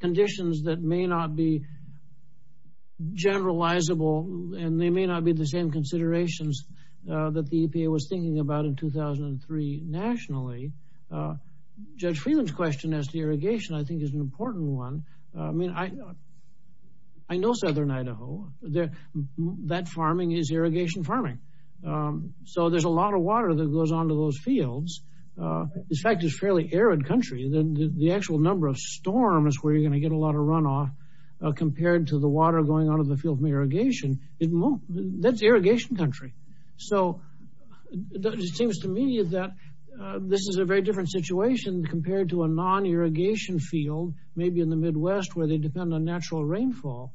conditions that may not be generalizable, and they may not be the same considerations that the EPA was thinking about in 2003 nationally. Judge Freeland's question as to irrigation, I think, is an important one. I mean, I know Southern Idaho. That farming is irrigation farming. So there's a lot of water that goes onto those fields. In fact, it's a fairly arid country. The actual number of storms is where you're gonna get a lot of runoff compared to the water going onto the field from irrigation. That's irrigation country. So it seems to me that this is a very different situation compared to a non-irrigation field, maybe in the Midwest, where they depend on natural rainfall.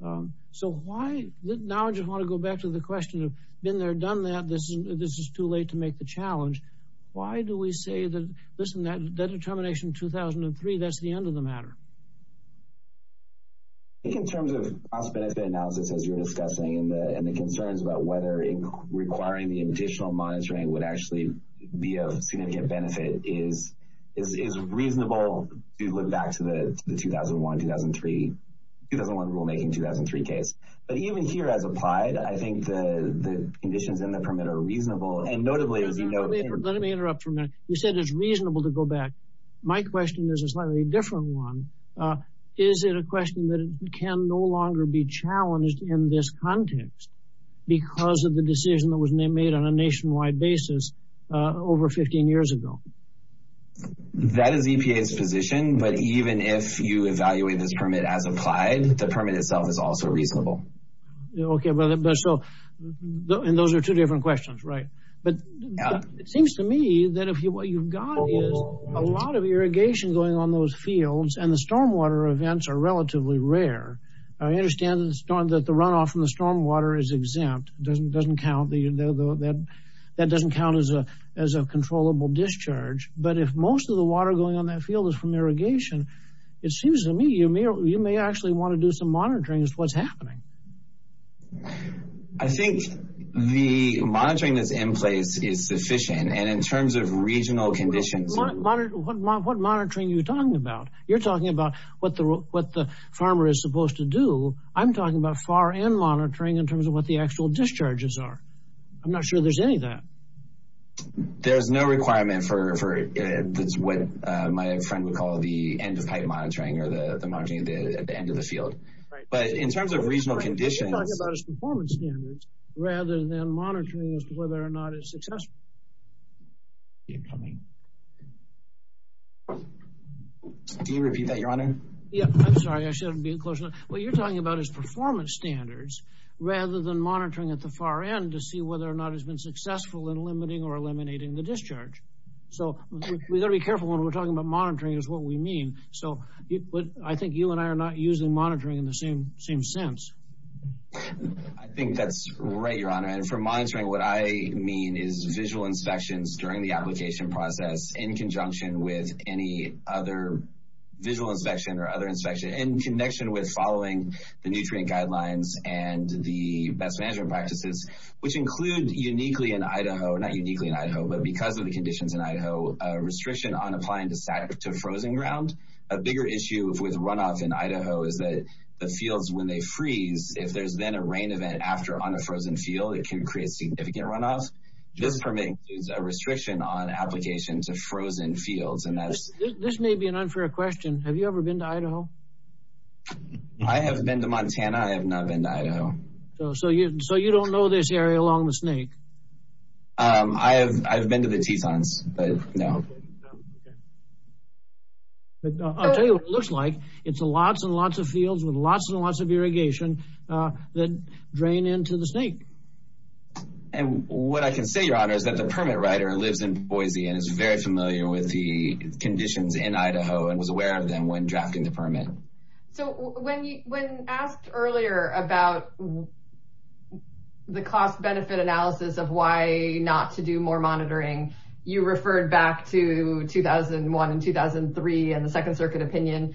So now I just want to go back to the question of been there, done that. This is too late to make the challenge. Why do we say that, listen, that determination in 2003, that's the end of the matter? I think in terms of cost-benefit analysis, as you were discussing, and the concerns about whether requiring any additional monitoring would actually be of significant benefit, is reasonable to go back to the 2001 rulemaking 2003 case. But even here as applied, I think the conditions in the permit are reasonable. And notably- Let me interrupt for a minute. You said it's reasonable to go back. My question is a slightly different one. Is it a question that can no longer be challenged in this context because of the decision that was made on a nationwide basis over 15 years ago? That is EPA's position. But even if you evaluate this permit as applied, the permit itself is also reasonable. Okay. And those are two different questions, right? But it seems to me that what you've got is a lot of irrigation going on those fields, and the stormwater events are relatively rare. I understand that the runoff from the stormwater is exempt. That doesn't count as a controllable discharge. But if most of the water going on that field is from irrigation, it seems to me you may actually want to do some monitoring as to what's happening. I think the monitoring that's in place is sufficient. And in terms of regional conditions- What monitoring are you talking about? You're talking about what the farmer is supposed to do. I'm talking about far-end monitoring in terms of what the actual discharges are. I'm not sure there's any of that. There's no requirement for it. That's what my friend would call the end-of-pipe monitoring or the monitoring at the end of the field. Right. But in terms of regional conditions- What you're talking about is performance standards rather than monitoring as to whether or not it's successful. Keep coming. Can you repeat that, Your Honor? Yeah. I'm sorry. I shouldn't be being close enough. What you're talking about is performance standards rather than monitoring at the far end to see whether or not it's been successful in limiting or eliminating the discharge. We've got to be careful when we're talking about monitoring is what we mean. I think you and I are not using monitoring in the same sense. I think that's right, Your Honor. And for monitoring, what I mean is visual inspections during the application process in conjunction with any other visual inspection or other inspection in connection with following the nutrient guidelines and the best management practices, which include uniquely in Idaho, not uniquely in Idaho, but because of the conditions in Idaho, a restriction on applying the sack to frozen ground. A bigger issue with runoff in Idaho is that the fields, when they freeze, if there's been a rain event after on a frozen field, it can create significant runoff. This permits a restriction on application to frozen fields. This may be an unfair question. Have you ever been to Idaho? I have been to Montana. I have not been to Idaho. So you don't know this area along the Snake? I've been to the T-Zones, but no. I'll tell you what it looks like. It's lots and lots of fields with lots and lots of irrigation that drain into the Snake. And what I can say, Your Honor, is that the permit writer lives in Boise and is very familiar with the conditions in Idaho and was aware of them when drafting the permit. So when asked earlier about the cost-benefit analysis of why not to do more monitoring, you referred back to 2001 and 2003 and the Second Circuit opinion.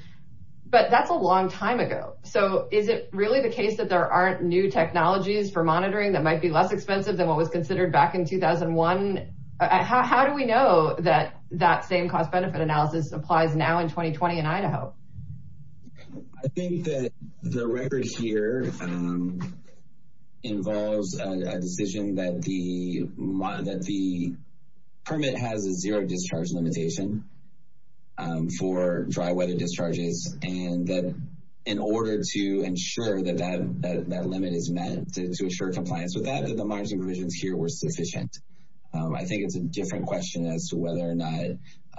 But that's a long time ago. So is it really the case that there aren't new technologies for monitoring that might be less expensive than what was considered back in 2001? How do we know that that same cost-benefit analysis applies now in 2020 in Idaho? I think that the record here involves a decision that the permit has a zero-discharge limitation for dry-wet discharges, and that in order to ensure that that limit is met, to ensure compliance with that, the monitoring provisions here were sufficient. I think it's a different question as to whether or not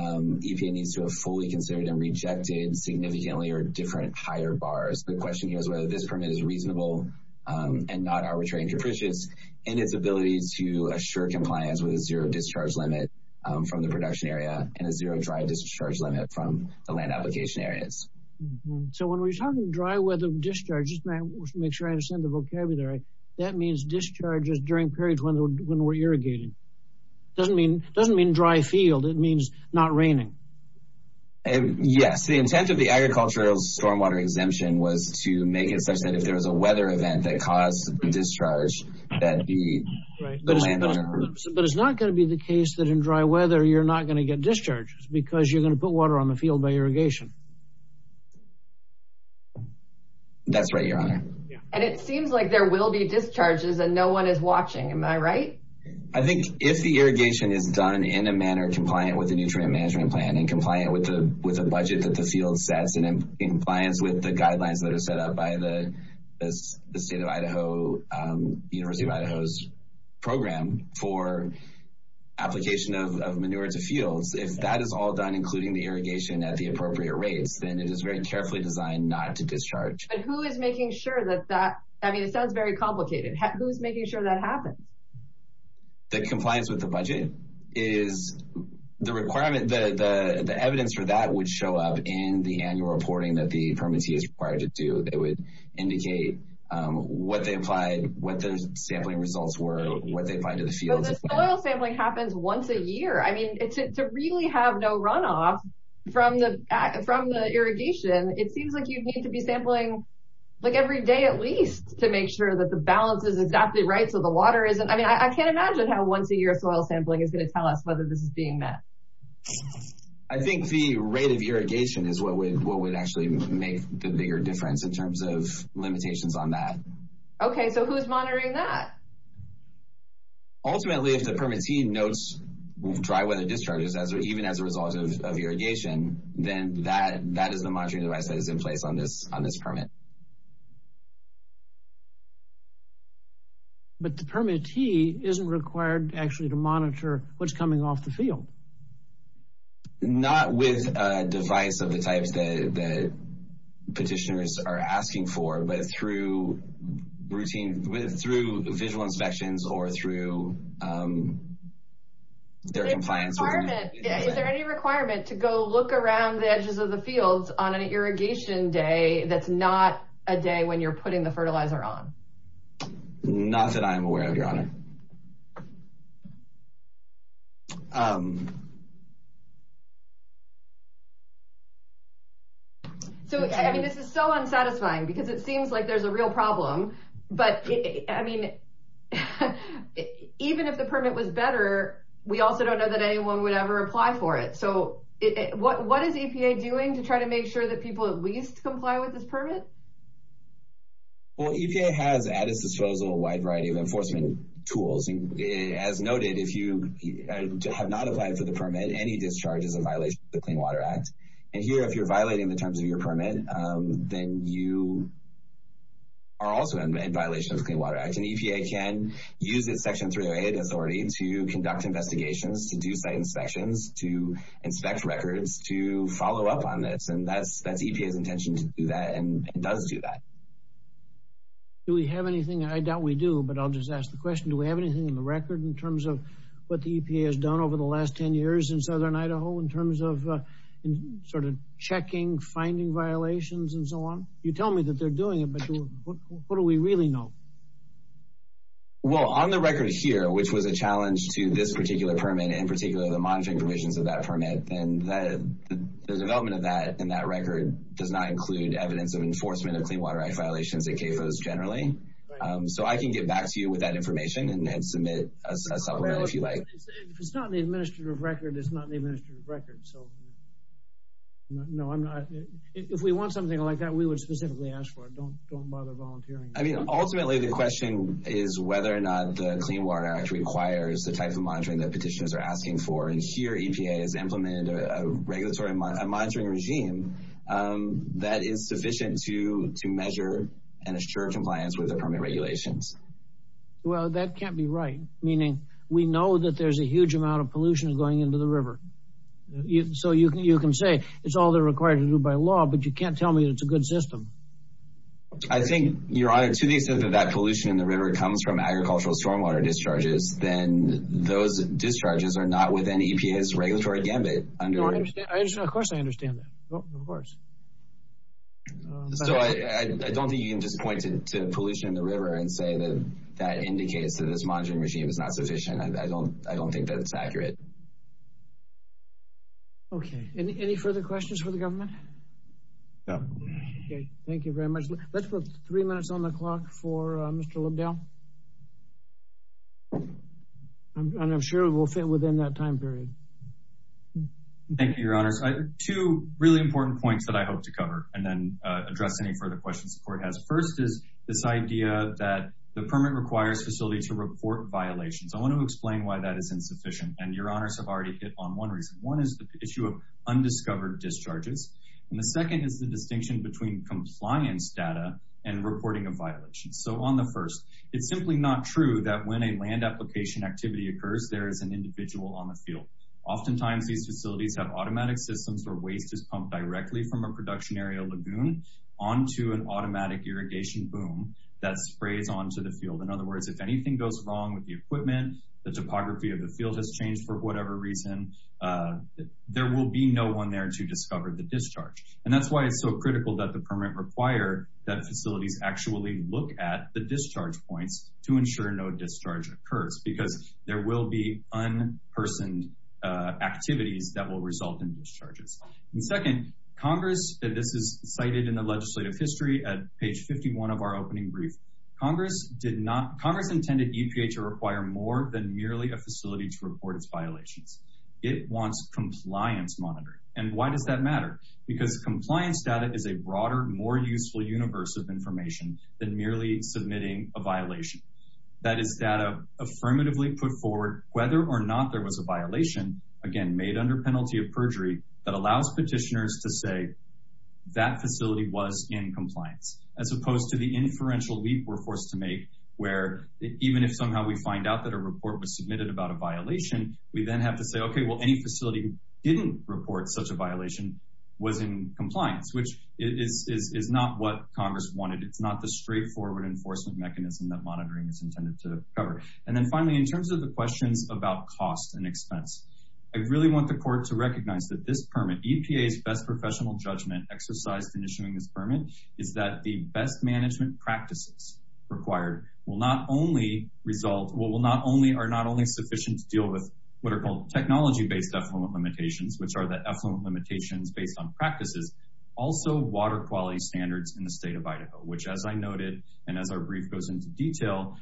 EPA needs to have fully considered and rejected significantly or different higher bars. The question is whether this permit is reasonable and not arbitrary and capricious in its ability to assure compliance with a zero-discharge limit from the production area and a zero-dry discharge limit from the land application areas. So when we're talking dry weather discharges, just to make sure I understand the vocabulary, that means discharges during periods when we're irrigating. It doesn't mean dry field. It means not raining. Yes. The intent of the agricultural stormwater exemption was to make it such that if there was a weather event that caused the discharge that the landowner... But it's not going to be the case that in dry weather you're not going to get discharges because you're going to put water on the field by irrigation. That's right, Your Honor. And it seems like there will be discharges and no one is watching. Am I right? I think if the irrigation is done in a manner compliant with the nutrient management plan and compliant with the budget that the field sets and in compliance with the guidelines that are set up by the University of Idaho's program for application of manure to fields, if that is all done including the irrigation at the appropriate rate, then it is very carefully designed not to discharge. But who is making sure that that... I mean, it sounds very complicated. Who's making sure that happens? The compliance with the budget is the requirement... The evidence for that would show up in the annual reporting that the permittee is required to do. They would indicate what the sampling results were, what they find in the field. Well, the soil sampling happens once a year. I mean, to really have no runoff from the irrigation, it seems like you'd need to be sampling every day at least to make sure that the balance is exactly right so the water isn't... I mean, I can't imagine how once-a-year soil sampling is going to tell us whether this is being met. I think the rate of irrigation is what would actually make the bigger difference in terms of limitations on that. Okay, so who's monitoring that? Ultimately, if the permittee notes dry weather discharges, even as a result of irrigation, then that is the monitoring device that is in place on this permit. But the permittee isn't required actually to monitor what's coming off the field. Not with a device of the type that petitioners are asking for, but through visual inspections or through their compliance... Is there any requirement to go look around the edges of the fields on an irrigation day that's not a day when you're putting the fertilizer on? Not that I'm aware of, yeah. So, I mean, this is so unsatisfying because it seems like there's a real problem, but I mean, even if the permit was better, we also don't know that anyone would ever apply for it. So what is EPA doing to try to make sure that people at least comply with this permit? Well, EPA has added to show a little wide variety of enforcement tools. As noted, if you have not applied for the permit, any discharge is a violation of the Clean Water Act. And here, if you're violating the terms of your permit, then you are also in violation of the Clean Water Act. And EPA can use its Section 308 authority to conduct investigations, to do site inspections, to inspect records, to follow up on this. And that's EPA's intention to do that, and it does do that. Do we have anything? I doubt we do, but I'll just ask the question. Do we have anything in the record in terms of what the EPA has done over the last 10 years in Southern Idaho in terms of sort of checking, finding violations, and so on? You tell me that they're doing it, but what do we really know? Well, on the record here, which was a challenge to this particular permit, in particular the monitoring provisions of that permit, and the development of that in that record does not include evidence of enforcement of Clean Water Act violations at CAFOs generally. So I can get back to you with that information and submit a supplemental if you'd like. If it's not in the administrative record, it's not in the administrative record. No, I'm not. If we want something like that, we would specifically ask for it. Don't bother volunteering. I mean, ultimately the question is whether or not the Clean Water Act requires the type of monitoring that petitioners are asking for, and here EPA has implemented a regulatory monitoring regime that is sufficient to measure and assure compliance with the permit regulations. Well, that can't be right, meaning we know that there's a huge amount of pollution going into the river. So you can say it's all they're required to do by law, I think your argument to the extent that pollution in the river comes from agricultural stormwater discharges, then those discharges are not within EPA's regulatory mandate. Of course I understand that. Of course. So I don't think you can just point to pollution in the river and say that that indicates that this monitoring regime is not sufficient. I don't think that's accurate. Okay. Any further questions for the government? No. Okay. Thank you very much. Let's put three minutes on the clock for Mr. Libdale. I'm sure we'll fit within that time period. Thank you, your honors. Two really important points that I hope to cover and then address any further questions the court has. First is this idea that the permit requires facilities to report violations. I want to explain why that is insufficient and your honors have already hit on one reason. One is the issue of undiscovered discharges. And the second is the distinction between compliance data and reporting a violation. So on the first, it's simply not true that when a land application activity occurs, there is an individual on the field. Oftentimes these facilities have automatic systems where waste is pumped directly from a production area lagoon onto an automatic irrigation boom that sprays onto the field. In other words, if anything goes wrong with the equipment, the topography of the field has changed for whatever reason, there will be no one there to discover the discharge. And that's why it's so critical that the permit require that facilities actually look at the discharge points to ensure no discharge occurs because there will be unpersoned activities that will result in discharges. And second, Congress, and this is cited in the legislative history at page 51 of our opening brief, Congress intended EPA to require more than merely a facility to report its violations. It wants compliance monitoring. And why does that matter? Because compliance data is a broader, more useful universe of information than merely submitting a violation. That is data affirmatively put forward whether or not there was a violation, again, made under penalty of perjury, that allows petitioners to say that facility was in compliance, as opposed to the inferential leap we're forced to make where even if somehow we find out that a report was submitted about a violation, we then have to say, okay, well any facility didn't report such a violation was in compliance, which is not what Congress wanted. It's not the straightforward enforcement mechanism that monitoring is intended to cover. And then finally, in terms of the question about cost and expense, I really want the court to recognize that this permit, EPA's best professional judgment exercise in issuing this permit is that the best management practices required will not only result, with what are called technology-based echelon limitations, which are the echelon limitations based on practices, also water quality standards in the state of Idaho, which as I noted, and as our brief goes into detail,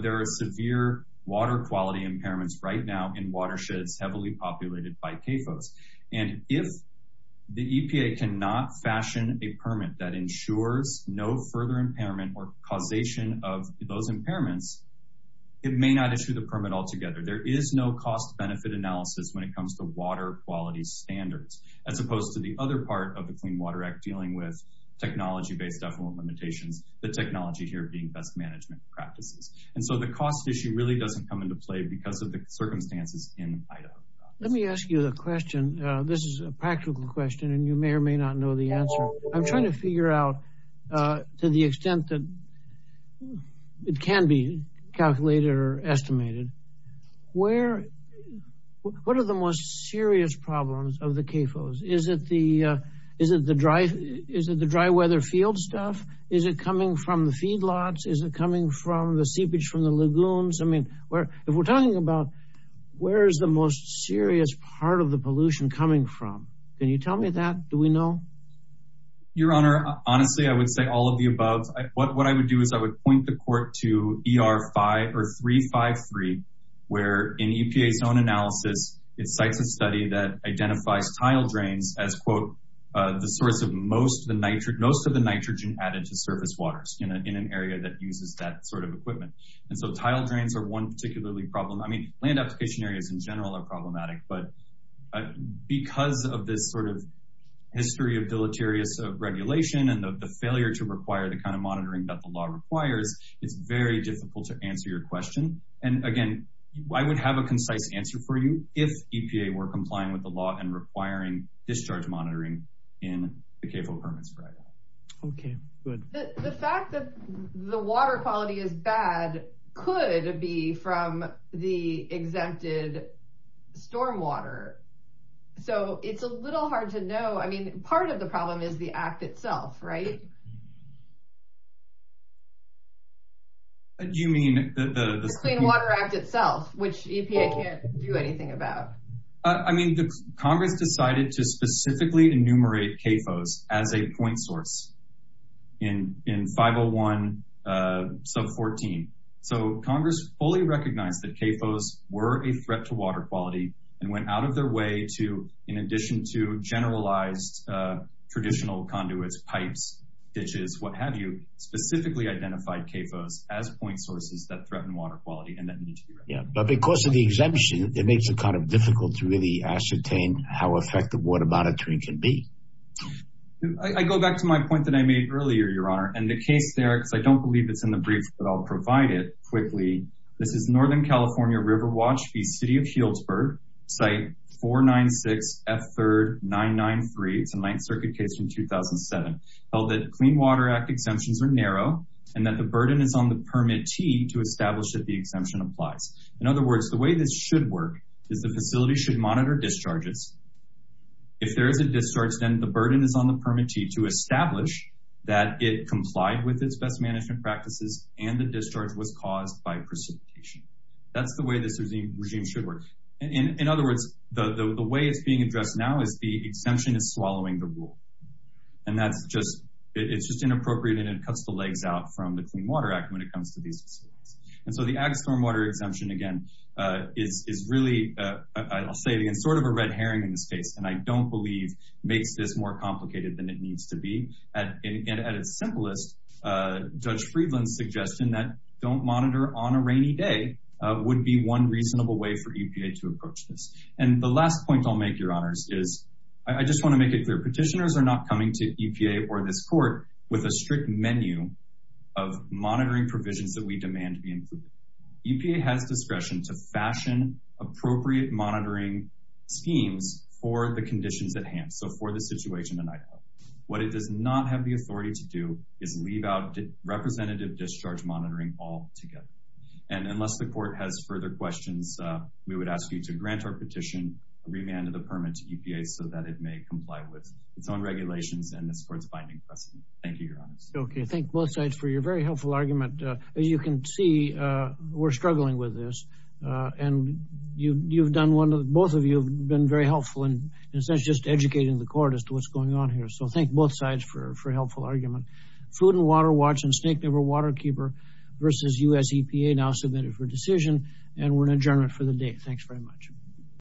there are severe water quality impairments right now in watersheds heavily populated by CAFOs. And if the EPA cannot fashion a permit that ensures no further impairment or causation of those impairments, it may not issue the permit altogether. There is no cost benefit analysis when it comes to water quality standards, as opposed to the other part of the Clean Water Act dealing with technology-based echelon limitations, the technology here being best management practices. And so the cost issue really doesn't come into play because of the circumstances in Idaho. Let me ask you a question. This is a practical question and you may or may not know the answer. I'm trying to figure out to the extent that it can be calculated or estimated. Where, what are the most serious problems of the CAFOs? Is it the dry weather field stuff? Is it coming from the feedlots? Is it coming from the seepage from the lagoons? I mean, if we're talking about where's the most serious part of the pollution coming from? Can you tell me that? Do we know? Your Honor, honestly, I would say all of the above. What I would do is I would point the court to ER 353, where in EPA's own analysis, it cites a study that identifies tile drains as, quote, the source of most of the nitrogen added to surface waters in an area that uses that sort of equipment. And so tile drains are one particularly problem. I mean, land application areas in general are problematic, but because of this sort of history of deleterious regulation and of the failure to require the kind of monitoring that the law requires, it's very difficult to answer your question. And again, I would have a concise answer for you if EPA were complying with the law and requiring discharge monitoring in the CAFO permit strategy. Okay, good. The fact that the water quality is bad could be from the exempted stormwater. So it's a little hard to know. I mean, part of the problem is the act itself, right? What do you mean? The Clean Water Act itself, which EPA can't do anything about. I mean, Congress decided to specifically enumerate CAFOs as a point source in 501 sub 14. So Congress fully recognized that CAFOs were a threat to water quality and went out of their way to, in addition to generalized traditional conduits, pipes, ditches, what have you, specifically identified CAFOs as point sources that threaten water quality and that need to be recognized. Yeah, but because of the exemption, it makes it kind of difficult to really ascertain how effective water monitoring can be. I go back to my point that I made earlier, Your Honor, and the case there, because I don't believe it's in the brief, but I'll provide it quickly. This is Northern California River Watch, the city of Shieldsburg, site 496S3993, the Ninth Circuit case from 2007, held that the Clean Water Act exemptions are narrow and that the burden is on the permittee to establish that the exemption applies. In other words, the way this should work is that the facility should monitor discharges. If there is a discharge, then the burden is on the permittee to establish that it complied with its best management practices and the discharge was caused by precipitation. That's the way this regime should work. In other words, the way it's being addressed now is the exemption is swallowing the rule, and that's just, it's just inappropriate and it cuts the legs out from the Clean Water Act when it comes to these issues. And so the Ag Stormwater Exemption, again, is really, I'll say, it's sort of a red herring in this case, and I don't believe makes this more complicated than it needs to be. At its simplest, Judge Friedland suggested that a system that don't monitor on a rainy day would be one reasonable way for EPA to approach this. And the last point I'll make, Your Honors, is I just want to make it clear. Petitioners are not coming to EPA or this court with a strict menu of monitoring provisions that we demand be included. EPA has discretion to fashion appropriate monitoring schemes for the conditions at hand, so for the situation at night. What it does not have the authority to do is leave out representative discharge monitoring altogether. And unless the court has further questions, we would ask you to grant our petition, remand the permit to EPA so that it may comply with its own regulations and this court's findings. Thank you, Your Honors. Okay, thank both sides for your very helpful argument. You can see we're struggling with this, and you've done one, both of you have been very helpful in, in a sense, just educating the court as to what's going on here. So thank both sides for a helpful argument. Food and Water Watch and Snake River Waterkeeper versus U.S. EPA now submitted for decision, and we're adjourned for the day. Thanks very much.